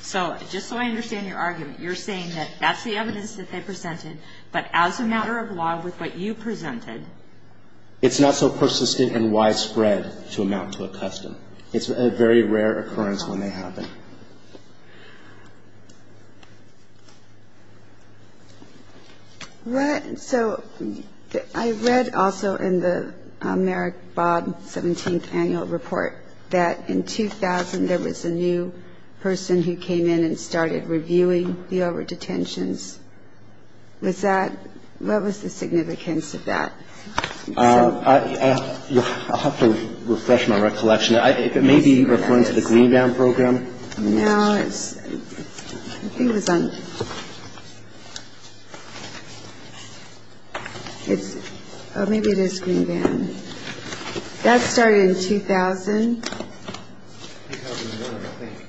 so just so I understand your argument, you're saying that that's the evidence that they presented, but as a matter of law, with what you presented It's not so persistent and widespread to amount to a custom. It's a very rare occurrence when they happen. So I read also in the Merrick-Bodd 17th Annual Report that in 2000 there was a new person who came in and started reviewing the over detentions. Was that, what was the significance of that? I'll have to refresh my recollection. If it may be referring to the Green Ban Program. No, it's, I think it was on, it's, oh, maybe it is Green Ban. That started in 2000. 2001, I think.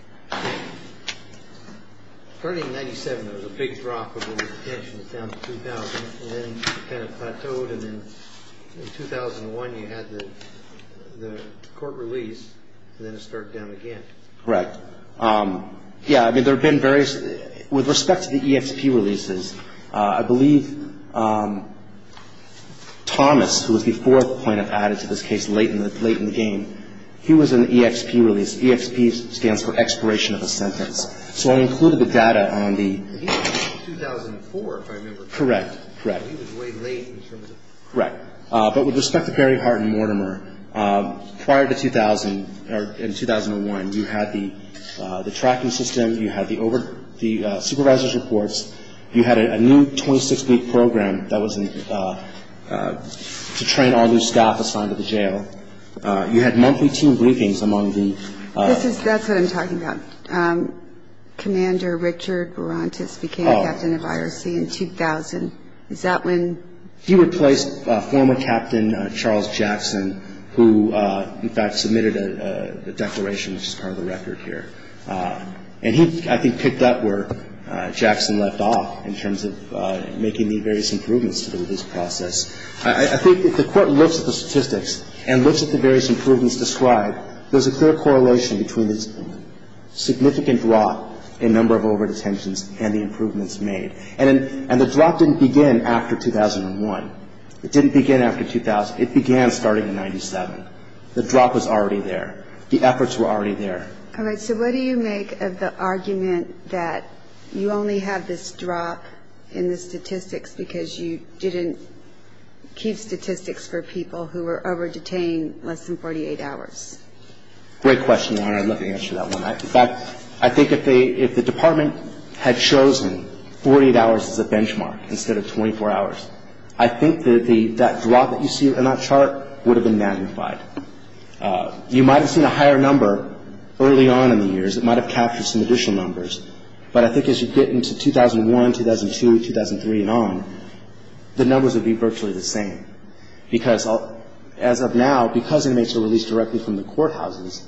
Starting in 97, there was a big drop of over detentions down to 2000, and then it kind of plateaued, and then in 2001 you had the court release, and then it started down again. Correct. Yeah, I mean, there have been various, with respect to the ESP releases, I believe Thomas, who was the fourth plaintiff added to this case late in the game, he was in the EXP release. EXP stands for expiration of a sentence. So I included the data on the... He was in 2004, if I remember correctly. Correct, correct. So he was way late in terms of... Correct. But with respect to Perry Hart and Mortimer, prior to 2000, or in 2001, you had the tracking system, you had the supervisor's reports, you had a new 26-week program that was to train all new staff assigned to the jail. You had monthly team briefings among the... That's what I'm talking about. Commander Richard Berantes became captain of IRC in 2000. Is that when... He replaced former captain Charles Jackson, who in fact submitted a declaration, which is part of the record here. And he, I think, picked up where Jackson left off in terms of making the various improvements to the release process. I think if the Court looks at the statistics and looks at the various improvements described, there's a clear correlation between the significant drop in number of overt detentions and the improvements made. And the drop didn't begin after 2001. It didn't begin after 2000. It began starting in 97. The drop was already there. The efforts were already there. All right. So what do you make of the argument that you only have this drop in the statistics because you didn't keep statistics for people who were over-detained less than 48 hours? Great question, Your Honor. I'd love to answer that one. In fact, I think if the Department had chosen 48 hours as a benchmark instead of 24 hours, I think that drop that you see in that chart would have been magnified. You might have seen a higher number early on in the years. It might have captured some additional numbers. But I think as you get into 2001, 2002, 2003 and on, the numbers would be virtually the same. Because as of now, because inmates are released directly from the courthouses,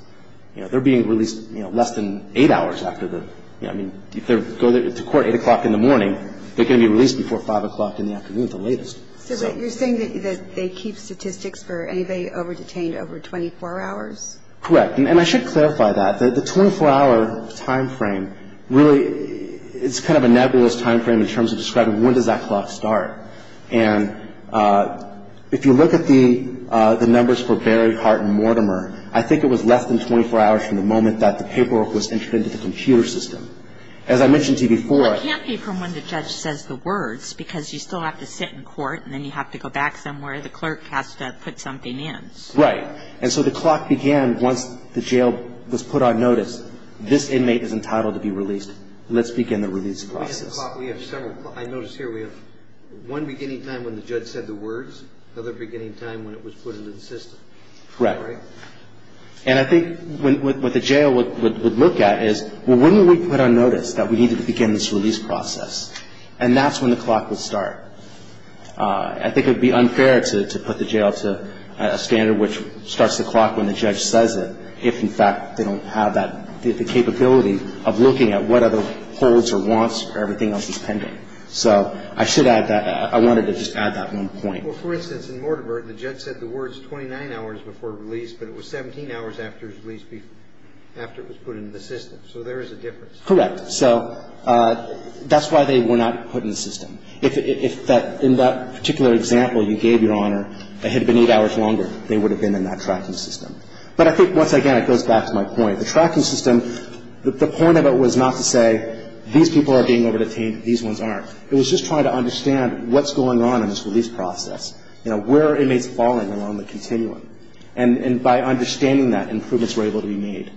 you know, they're being released, you know, less than eight hours after the, you know, I mean, if they go to court at 8 o'clock in the morning, they're going to be released before 5 o'clock in the afternoon, the latest. So you're saying that they keep statistics for anybody over-detained over 24 hours? Correct. And I should clarify that. The 24-hour time frame really is kind of a nebulous time frame in terms of describing when does that clock start. And if you look at the numbers for Berry, Hart and Mortimer, I think it was less than 24 hours from the moment that the paperwork was entered into the computer system. As I mentioned to you before. It can't be from when the judge says the words because you still have to sit in court and then you have to go back somewhere. The clerk has to put something in. Right. And so the clock began once the jail was put on notice. This inmate is entitled to be released. Let's begin the release process. We have several. I notice here we have one beginning time when the judge said the words, another beginning time when it was put into the system. Right. And I think what the jail would look at is, well, when do we put on notice that we need to begin this release process? And that's when the clock would start. I think it would be unfair to put the jail to a standard which starts the clock when the judge says it if, in fact, they don't have the capability of looking at what other holds or wants or everything else is pending. So I should add that. I wanted to just add that one point. Well, for instance, in Mortimer, the judge said the words 29 hours before release, but it was 17 hours after it was released, after it was put into the system. So there is a difference. Correct. So that's why they were not put in the system. If in that particular example you gave, Your Honor, it had been eight hours longer, they would have been in that tracking system. But I think, once again, it goes back to my point. The tracking system, the point of it was not to say these people are being over-detained, these ones aren't. It was just trying to understand what's going on in this release process. You know, where are inmates falling along the continuum? And by understanding that, improvements were able to be made.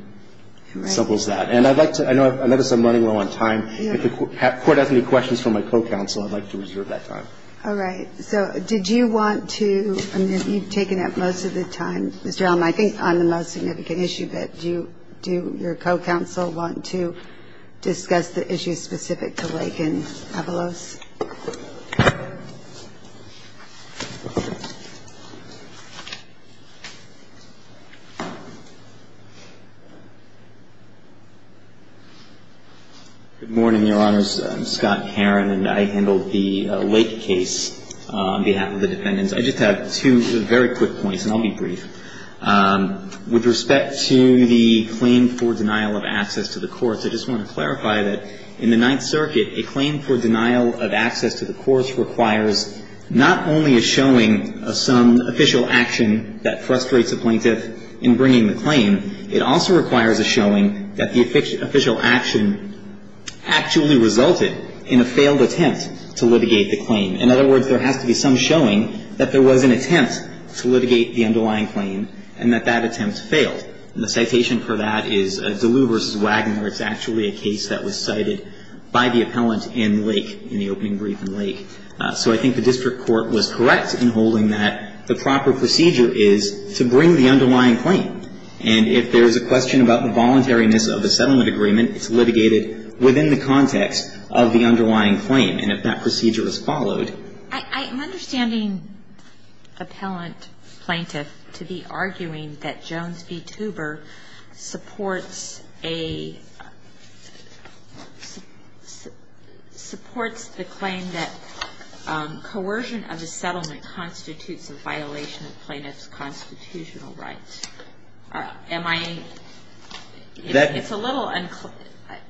And so that's the point. Correct. And I would like to add, I notice I'm running low on time. If the Court has any questions from my co-counsel, I'd like to reserve that time. All right. So did you want to, I mean, you've taken up most of the time, Mr. Elm, I think, on the most significant issue, but do your co-counsel want to discuss the issue specific to Lake and Avalos? Good morning, Your Honors. I'm Scott Herron, and I handled the Lake case on behalf of the defendants. I just have two very quick points, and I'll be brief. With respect to the claim for denial of access to the courts, I just want to clarify that in the Ninth Circuit, a claim for denial of access to the courts is a claim for denial of access to the court. A claim for denial of access to the courts requires not only a showing of some official action that frustrates a plaintiff in bringing the claim, it also requires a showing that the official action actually resulted in a failed attempt to litigate the claim. In other words, there has to be some showing that there was an attempt to litigate the underlying claim and that that attempt failed. And the citation for that is DeLue v. Wagner. It's actually a case that was cited by the appellant in Lake, in the opening brief in Lake. So I think the district court was correct in holding that the proper procedure is to bring the underlying claim. And if there's a question about the voluntariness of the settlement agreement, it's litigated within the context of the underlying claim, and if that procedure is followed. I'm understanding appellant plaintiff to be arguing that Jones v. Tuber supports a supports the claim that coercion of the settlement constitutes a violation of plaintiff's constitutional rights. Am I? It's a little unclear.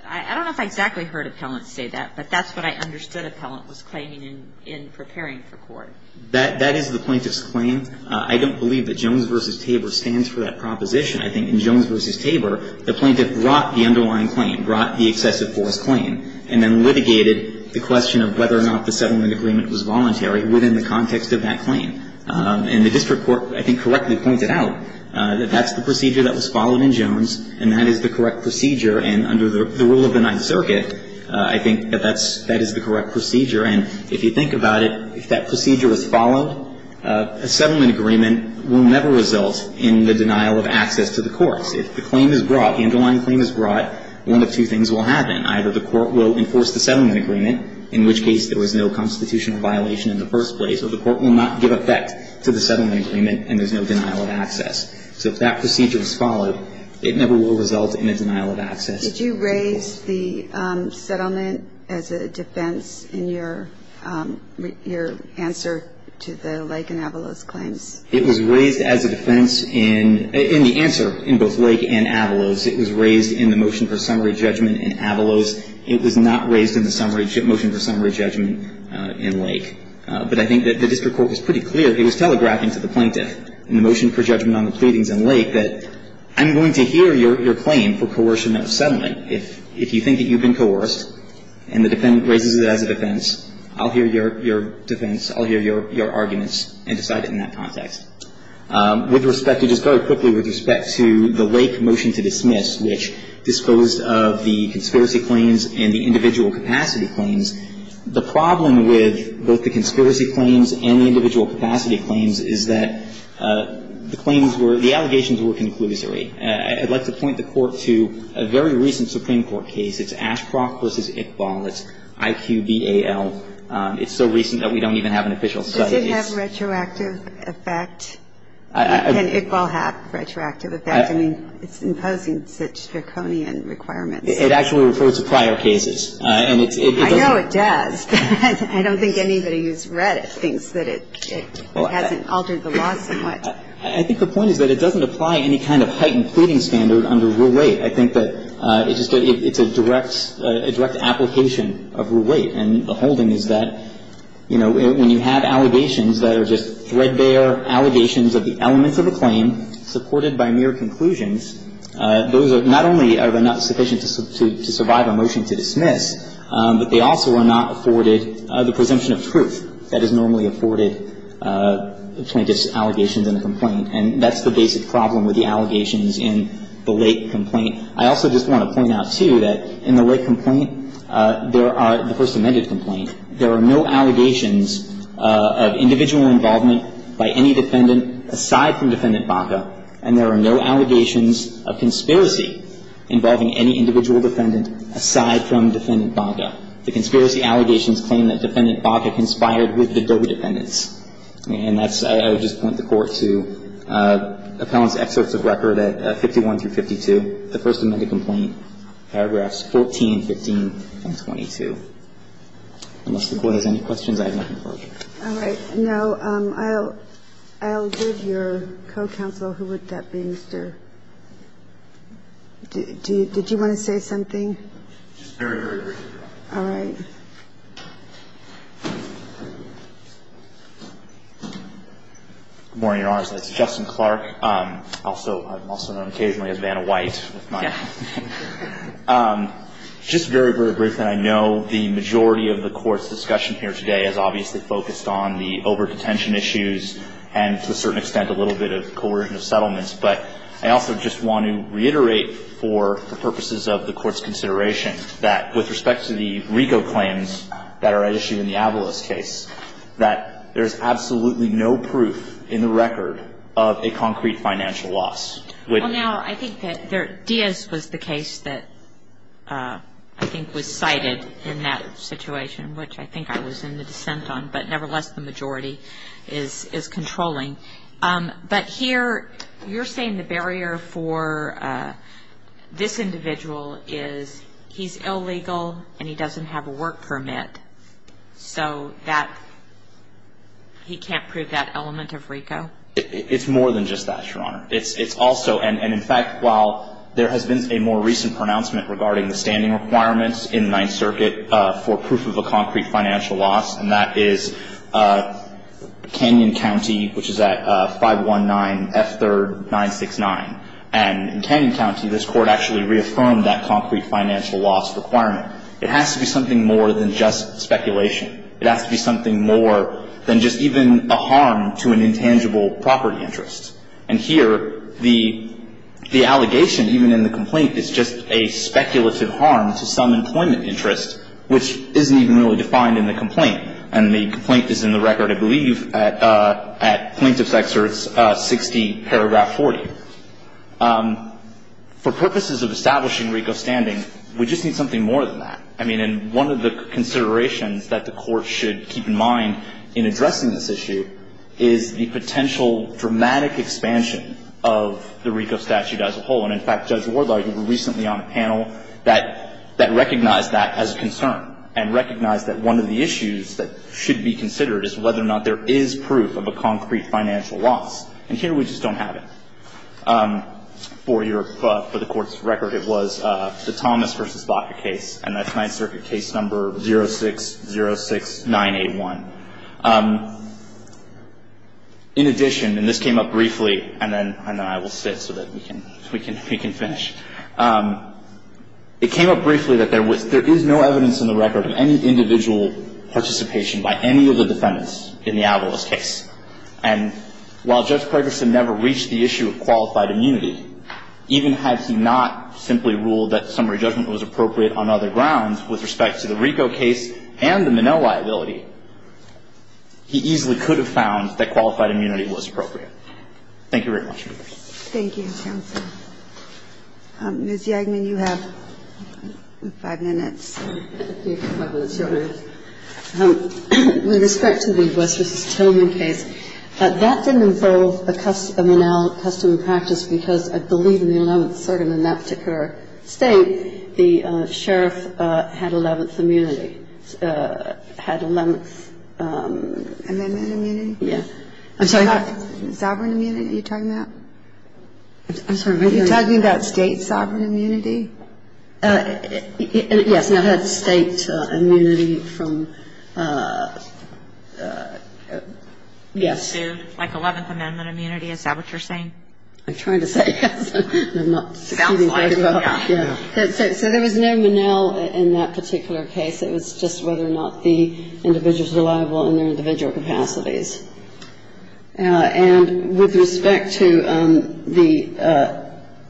I don't know if I exactly heard appellant say that, but that's what I understood appellant was claiming in preparing for court. That is the plaintiff's claim. I don't believe that Jones v. Tuber stands for that proposition. I think in Jones v. Tuber, the plaintiff brought the underlying claim, brought the excessive force claim, and then litigated the question of whether or not the settlement agreement was voluntary within the context of that claim. And the district court, I think, correctly pointed out that that's the procedure that was followed in Jones, and that is the correct procedure. And under the rule of the Ninth Circuit, I think that that's the correct procedure. And if you think about it, if that procedure is followed, a settlement agreement will never result in the denial of access to the courts. If the claim is brought, the underlying claim is brought, one of two things will happen. Either the court will enforce the settlement agreement, in which case there was no constitutional violation in the first place, or the court will not give effect to the settlement agreement and there's no denial of access. So if that procedure is followed, it never will result in a denial of access. Did you raise the settlement as a defense in your answer to the Lake and Avalos claims? It was raised as a defense in the answer in both Lake and Avalos. It was raised in the motion for summary judgment in Avalos. It was not raised in the motion for summary judgment in Lake. But I think that the district court was pretty clear. It was telegraphed into the plaintiff in the motion for judgment on the pleadings in Lake that I'm going to hear your claim for coercion of settlement. If you think that you've been coerced and the defendant raises it as a defense, I'll hear your defense, I'll hear your arguments and decide it in that context. With respect to just very quickly with respect to the Lake motion to dismiss, which disposed of the conspiracy claims and the individual capacity claims, the problem with both the conspiracy claims and the individual capacity claims is that the claims were the allegations were conclusory. I'd like to point the Court to a very recent Supreme Court case. It's Ashcroft v. Iqbal. It's I-Q-B-A-L. It's so recent that we don't even have an official study. Does it have retroactive effect? Can Iqbal have retroactive effect? I mean, it's imposing such draconian requirements. It actually refers to prior cases. I know it does. I don't think anybody who's read it thinks that it hasn't altered the law somewhat. I think the point is that it doesn't apply any kind of heightened pleading standard under Rule 8. I think that it's a direct application of Rule 8. And the holding is that, you know, when you have allegations that are just threadbare allegations of the elements of a claim supported by mere conclusions, those are not only are they not sufficient to survive a motion to dismiss, but they also are not afforded the presumption of truth that is normally afforded plaintiff's allegations in a complaint. And that's the basic problem with the allegations in the late complaint. I also just want to point out, too, that in the late complaint, there are the first amended complaint, there are no allegations of individual involvement by any defendant aside from Defendant Baca, and there are no allegations of conspiracy involving any individual defendant aside from Defendant Baca. The conspiracy allegations claim that Defendant Baca conspired with the Derby defendants. And that's why I would just point the Court to Appellant Excerpts of Record at 51 through 52, the first amended complaint, paragraphs 14, 15, and 22. Unless the Court has any questions, I have nothing further. All right. Now, I'll give your co-counsel, who would that be, Mr. Did you want to say something? Just very, very briefly. All right. Good morning, Your Honor. It's Justin Clark, also known occasionally as Vanna White. Just very, very briefly. I know the majority of the Court's discussion here today is obviously focused on the over-detention issues and, to a certain extent, a little bit of coercion of settlements. But I also just want to reiterate for the purposes of the Court's consideration that with respect to the RICO claims that are at issue in the Avalos case, that there is absolutely no proof in the record of a concrete financial loss. Well, now, I think that Diaz was the case that I think was cited in that situation, which I think I was in the dissent on. But nevertheless, the majority is controlling. But here, you're saying the barrier for this individual is he's illegal and he doesn't have a work permit, so that he can't prove that element of RICO? It's more than just that, Your Honor. It's also, and in fact, while there has been a more recent pronouncement regarding the standing requirements in the Ninth Circuit for proof of a concrete financial loss, and that is Canyon County, which is at 519 F3rd 969. And in Canyon County, this Court actually reaffirmed that concrete financial loss requirement. It has to be something more than just speculation. It has to be something more than just even a harm to an intangible property interest. And here, the allegation even in the complaint is just a speculative harm to some employment interest, which isn't even really defined in the complaint. And the complaint is in the record, I believe, at Plaintiff's Excerpt 60, paragraph 40. For purposes of establishing RICO standing, we just need something more than that. I mean, and one of the considerations that the Court should keep in mind in addressing this issue is the potential dramatic expansion of the RICO statute as a whole. And in fact, Judge Wardlaw, you were recently on a panel that recognized that as a concern and recognized that one of the issues that should be considered is whether or not there is proof of a concrete financial loss. And here we just don't have it. For the Court's record, it was the Thomas v. Baca case, and that's Ninth Circuit case number 0606981. In addition, and this came up briefly, and then I will sit so that we can finish, it came up briefly that there is no evidence in the record of any individual participation by any of the defendants in the Avalos case. And while Judge Pregerson never reached the issue of qualified immunity, even had he not simply ruled that summary judgment was appropriate on other grounds with respect to the RICO case and the Monell liability, he easily could have found that qualified immunity was appropriate. Thank you very much. Thank you, counsel. Ms. Yagman, you have five minutes. Five minutes. With respect to the West v. Tillman case, that didn't involve a Monell custom practice because I believe in the Eleventh Circuit in that particular State, the sheriff had eleventh immunity. Had eleventh... Amendment immunity? Yes. I'm sorry. Sovereign immunity? Are you talking about? I'm sorry. Are you talking about State sovereign immunity? Yes. I had State immunity from yes. Like Eleventh Amendment immunity? Is that what you're saying? I'm trying to say yes. I'm not succeeding very well. So there was no Monell in that particular case. It was just whether or not the individuals were liable in their individual capacities. And with respect to the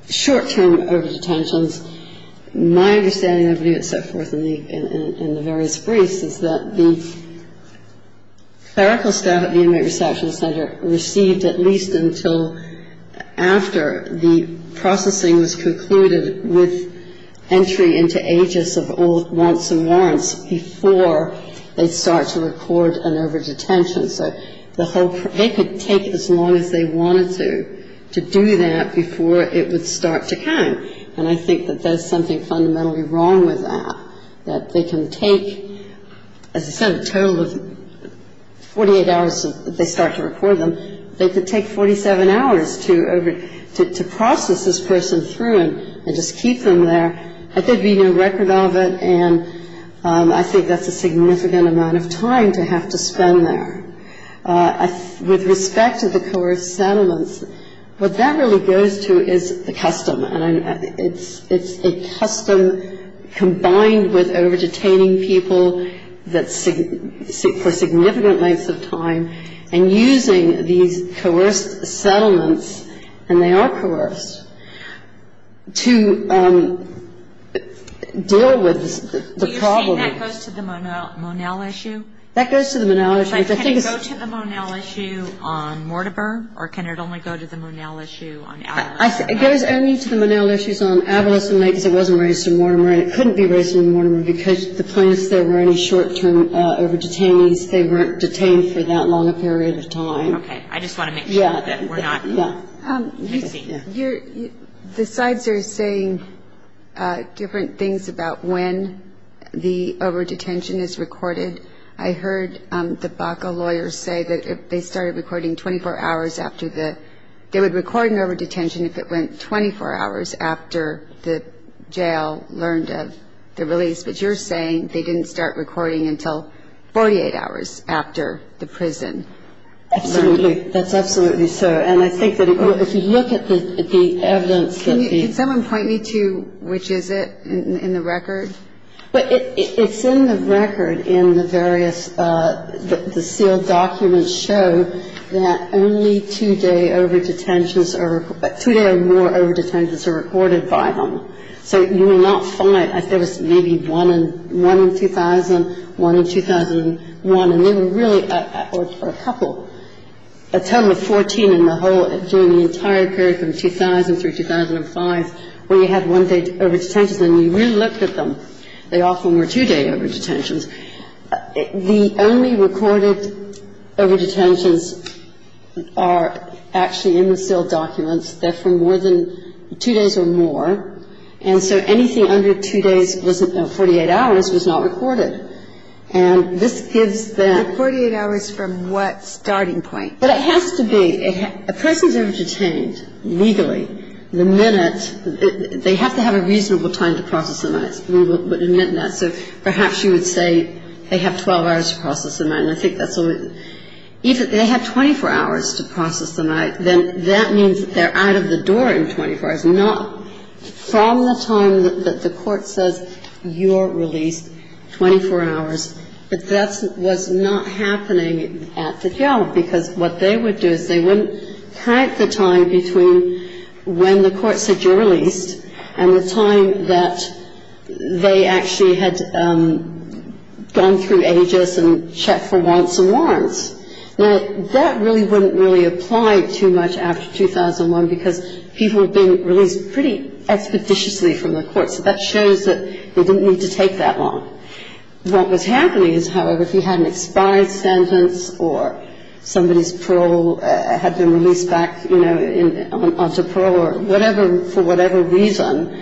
short-term overdetentions, my understanding I believe it set forth in the various briefs is that the clerical staff received at least until after the processing was concluded with entry into aegis of all wants and wants before they'd start to record an overdetention. So the whole period could take as long as they wanted to do that before it would start to count. And I think that there's something fundamentally wrong with that, that they can take, as I said, a total of 48 hours that they start to record them. They could take 47 hours to process this person through and just keep them there. There'd be no record of it. And I think that's a significant amount of time to have to spend there. With respect to the coerced settlements, what that really goes to is the custom. And it's a custom combined with overdetaining people for significant lengths of time and using these coerced settlements, and they are coerced, to deal with the problem. Do you think that goes to the Monell issue? That goes to the Monell issue. Can it go to the Monell issue on Mortimer, or can it only go to the Monell issue on Adams? It goes only to the Monell issues on Avalos and Lakes. It wasn't raised in Mortimer, and it couldn't be raised in Mortimer because the plaintiffs there were any short-term overdetainees. They weren't detained for that long a period of time. Okay. I just want to make sure that we're not missing. Yeah. The sides are saying different things about when the overdetention is recorded. I heard the Baca lawyers say that if they started recording 24 hours after the – they would record an overdetention if it went 24 hours after the jail learned of the release. But you're saying they didn't start recording until 48 hours after the prison learned of it. Absolutely. That's absolutely so. And I think that if you look at the evidence that the – Can someone point me to which is it in the record? Well, it's in the record in the various – the sealed documents show that only two-day overdetentions are – two-day or more overdetentions are recorded by them. So you will not find – there was maybe one in 2000, one in 2001. And they were really a couple, a total of 14 in the whole – during the entire period from 2000 through 2005 where you had one-day overdetentions. And when you really looked at them, they often were two-day overdetentions. The only recorded overdetentions are actually in the sealed documents. They're for more than two days or more. And so anything under two days was – 48 hours was not recorded. And this gives them – But 48 hours from what starting point? But it has to be. A person's overdetained legally the minute – they have to have a reasonable time to process the night. We would admit that. So perhaps you would say they have 12 hours to process the night. And I think that's only – if they have 24 hours to process the night, then that means that they're out of the door in 24 hours. Not from the time that the court says you're released, 24 hours. But that was not happening at the jail, because what they would do is they wouldn't count the time between when the court said you're released and the time that they actually had gone through AGIS and checked for wants and warrants. Now, that really wouldn't really apply too much after 2001 because people had been released pretty expeditiously from the court. So that shows that they didn't need to take that long. What was happening is, however, if you had an expired sentence or somebody's parole had been released back, you know, onto parole or whatever, for whatever reason,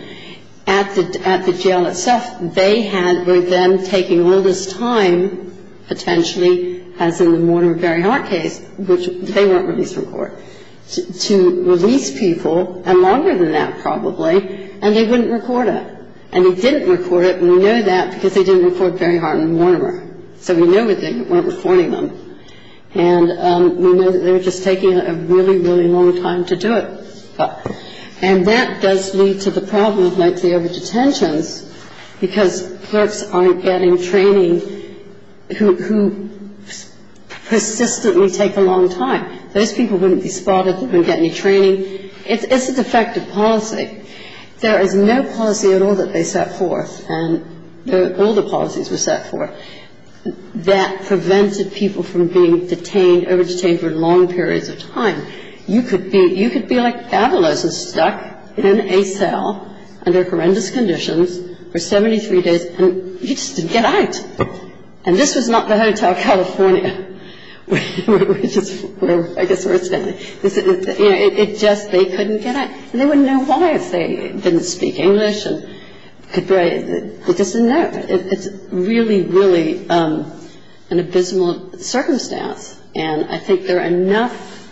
at the jail itself, they had – were then taking all this time, potentially, as in the Mortimer Berryhart case, which they weren't released from court, to release people, and longer than that probably, and they wouldn't record it. And they didn't record it, and we know that because they didn't record Berryhart and Mortimer. So we know that they weren't recording them. And we know that they were just taking a really, really long time to do it. And that does lead to the problem of nightly overdetentions because clerks aren't getting training who persistently take a long time. Those people wouldn't be spotted, they wouldn't get any training. It's a defective policy. There is no policy at all that they set forth, and all the policies were set forth, that prevented people from being detained, over-detained, for long periods of time. You could be – you could be like Babalos and stuck in a cell under horrendous conditions for 73 days, and you just didn't get out. And this was not the Hotel California, which is where I guess we're standing. It just – they couldn't get out. And they wouldn't know why if they didn't speak English and could breathe. They just didn't know. It's really, really an abysmal circumstance. And I think there are enough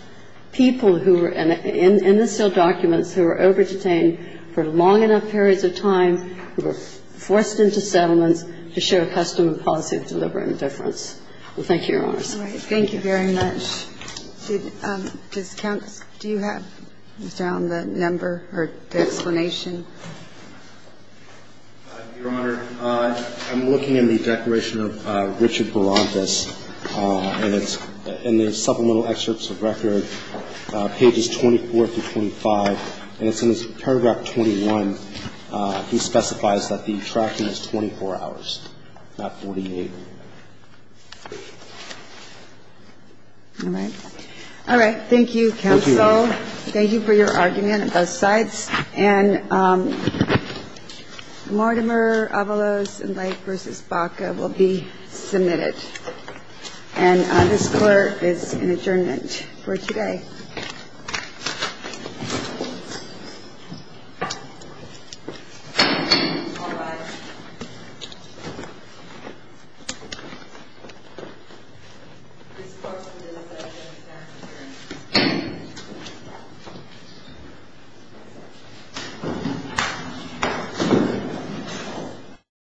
people who were in the cell documents who were over-detained for long enough periods of time, who were forced into settlements, to show a custom and policy of delivering indifference. Well, thank you, Your Honors. Thank you very much. Does Counsel – do you have, Mr. Allen, the number or the explanation? Your Honor, I'm looking in the declaration of Richard Berantes, and it's in the supplemental excerpts of record, pages 24 through 25. And it's in paragraph 21. He specifies that the tracking is 24 hours, not 48. All right. All right. Thank you, Counsel. Thank you. Thank you for your argument on both sides. And Mortimer, Avalos, and Lake v. Baca will be submitted. And this Court is in adjournment for today. All rise. This Court is adjourned.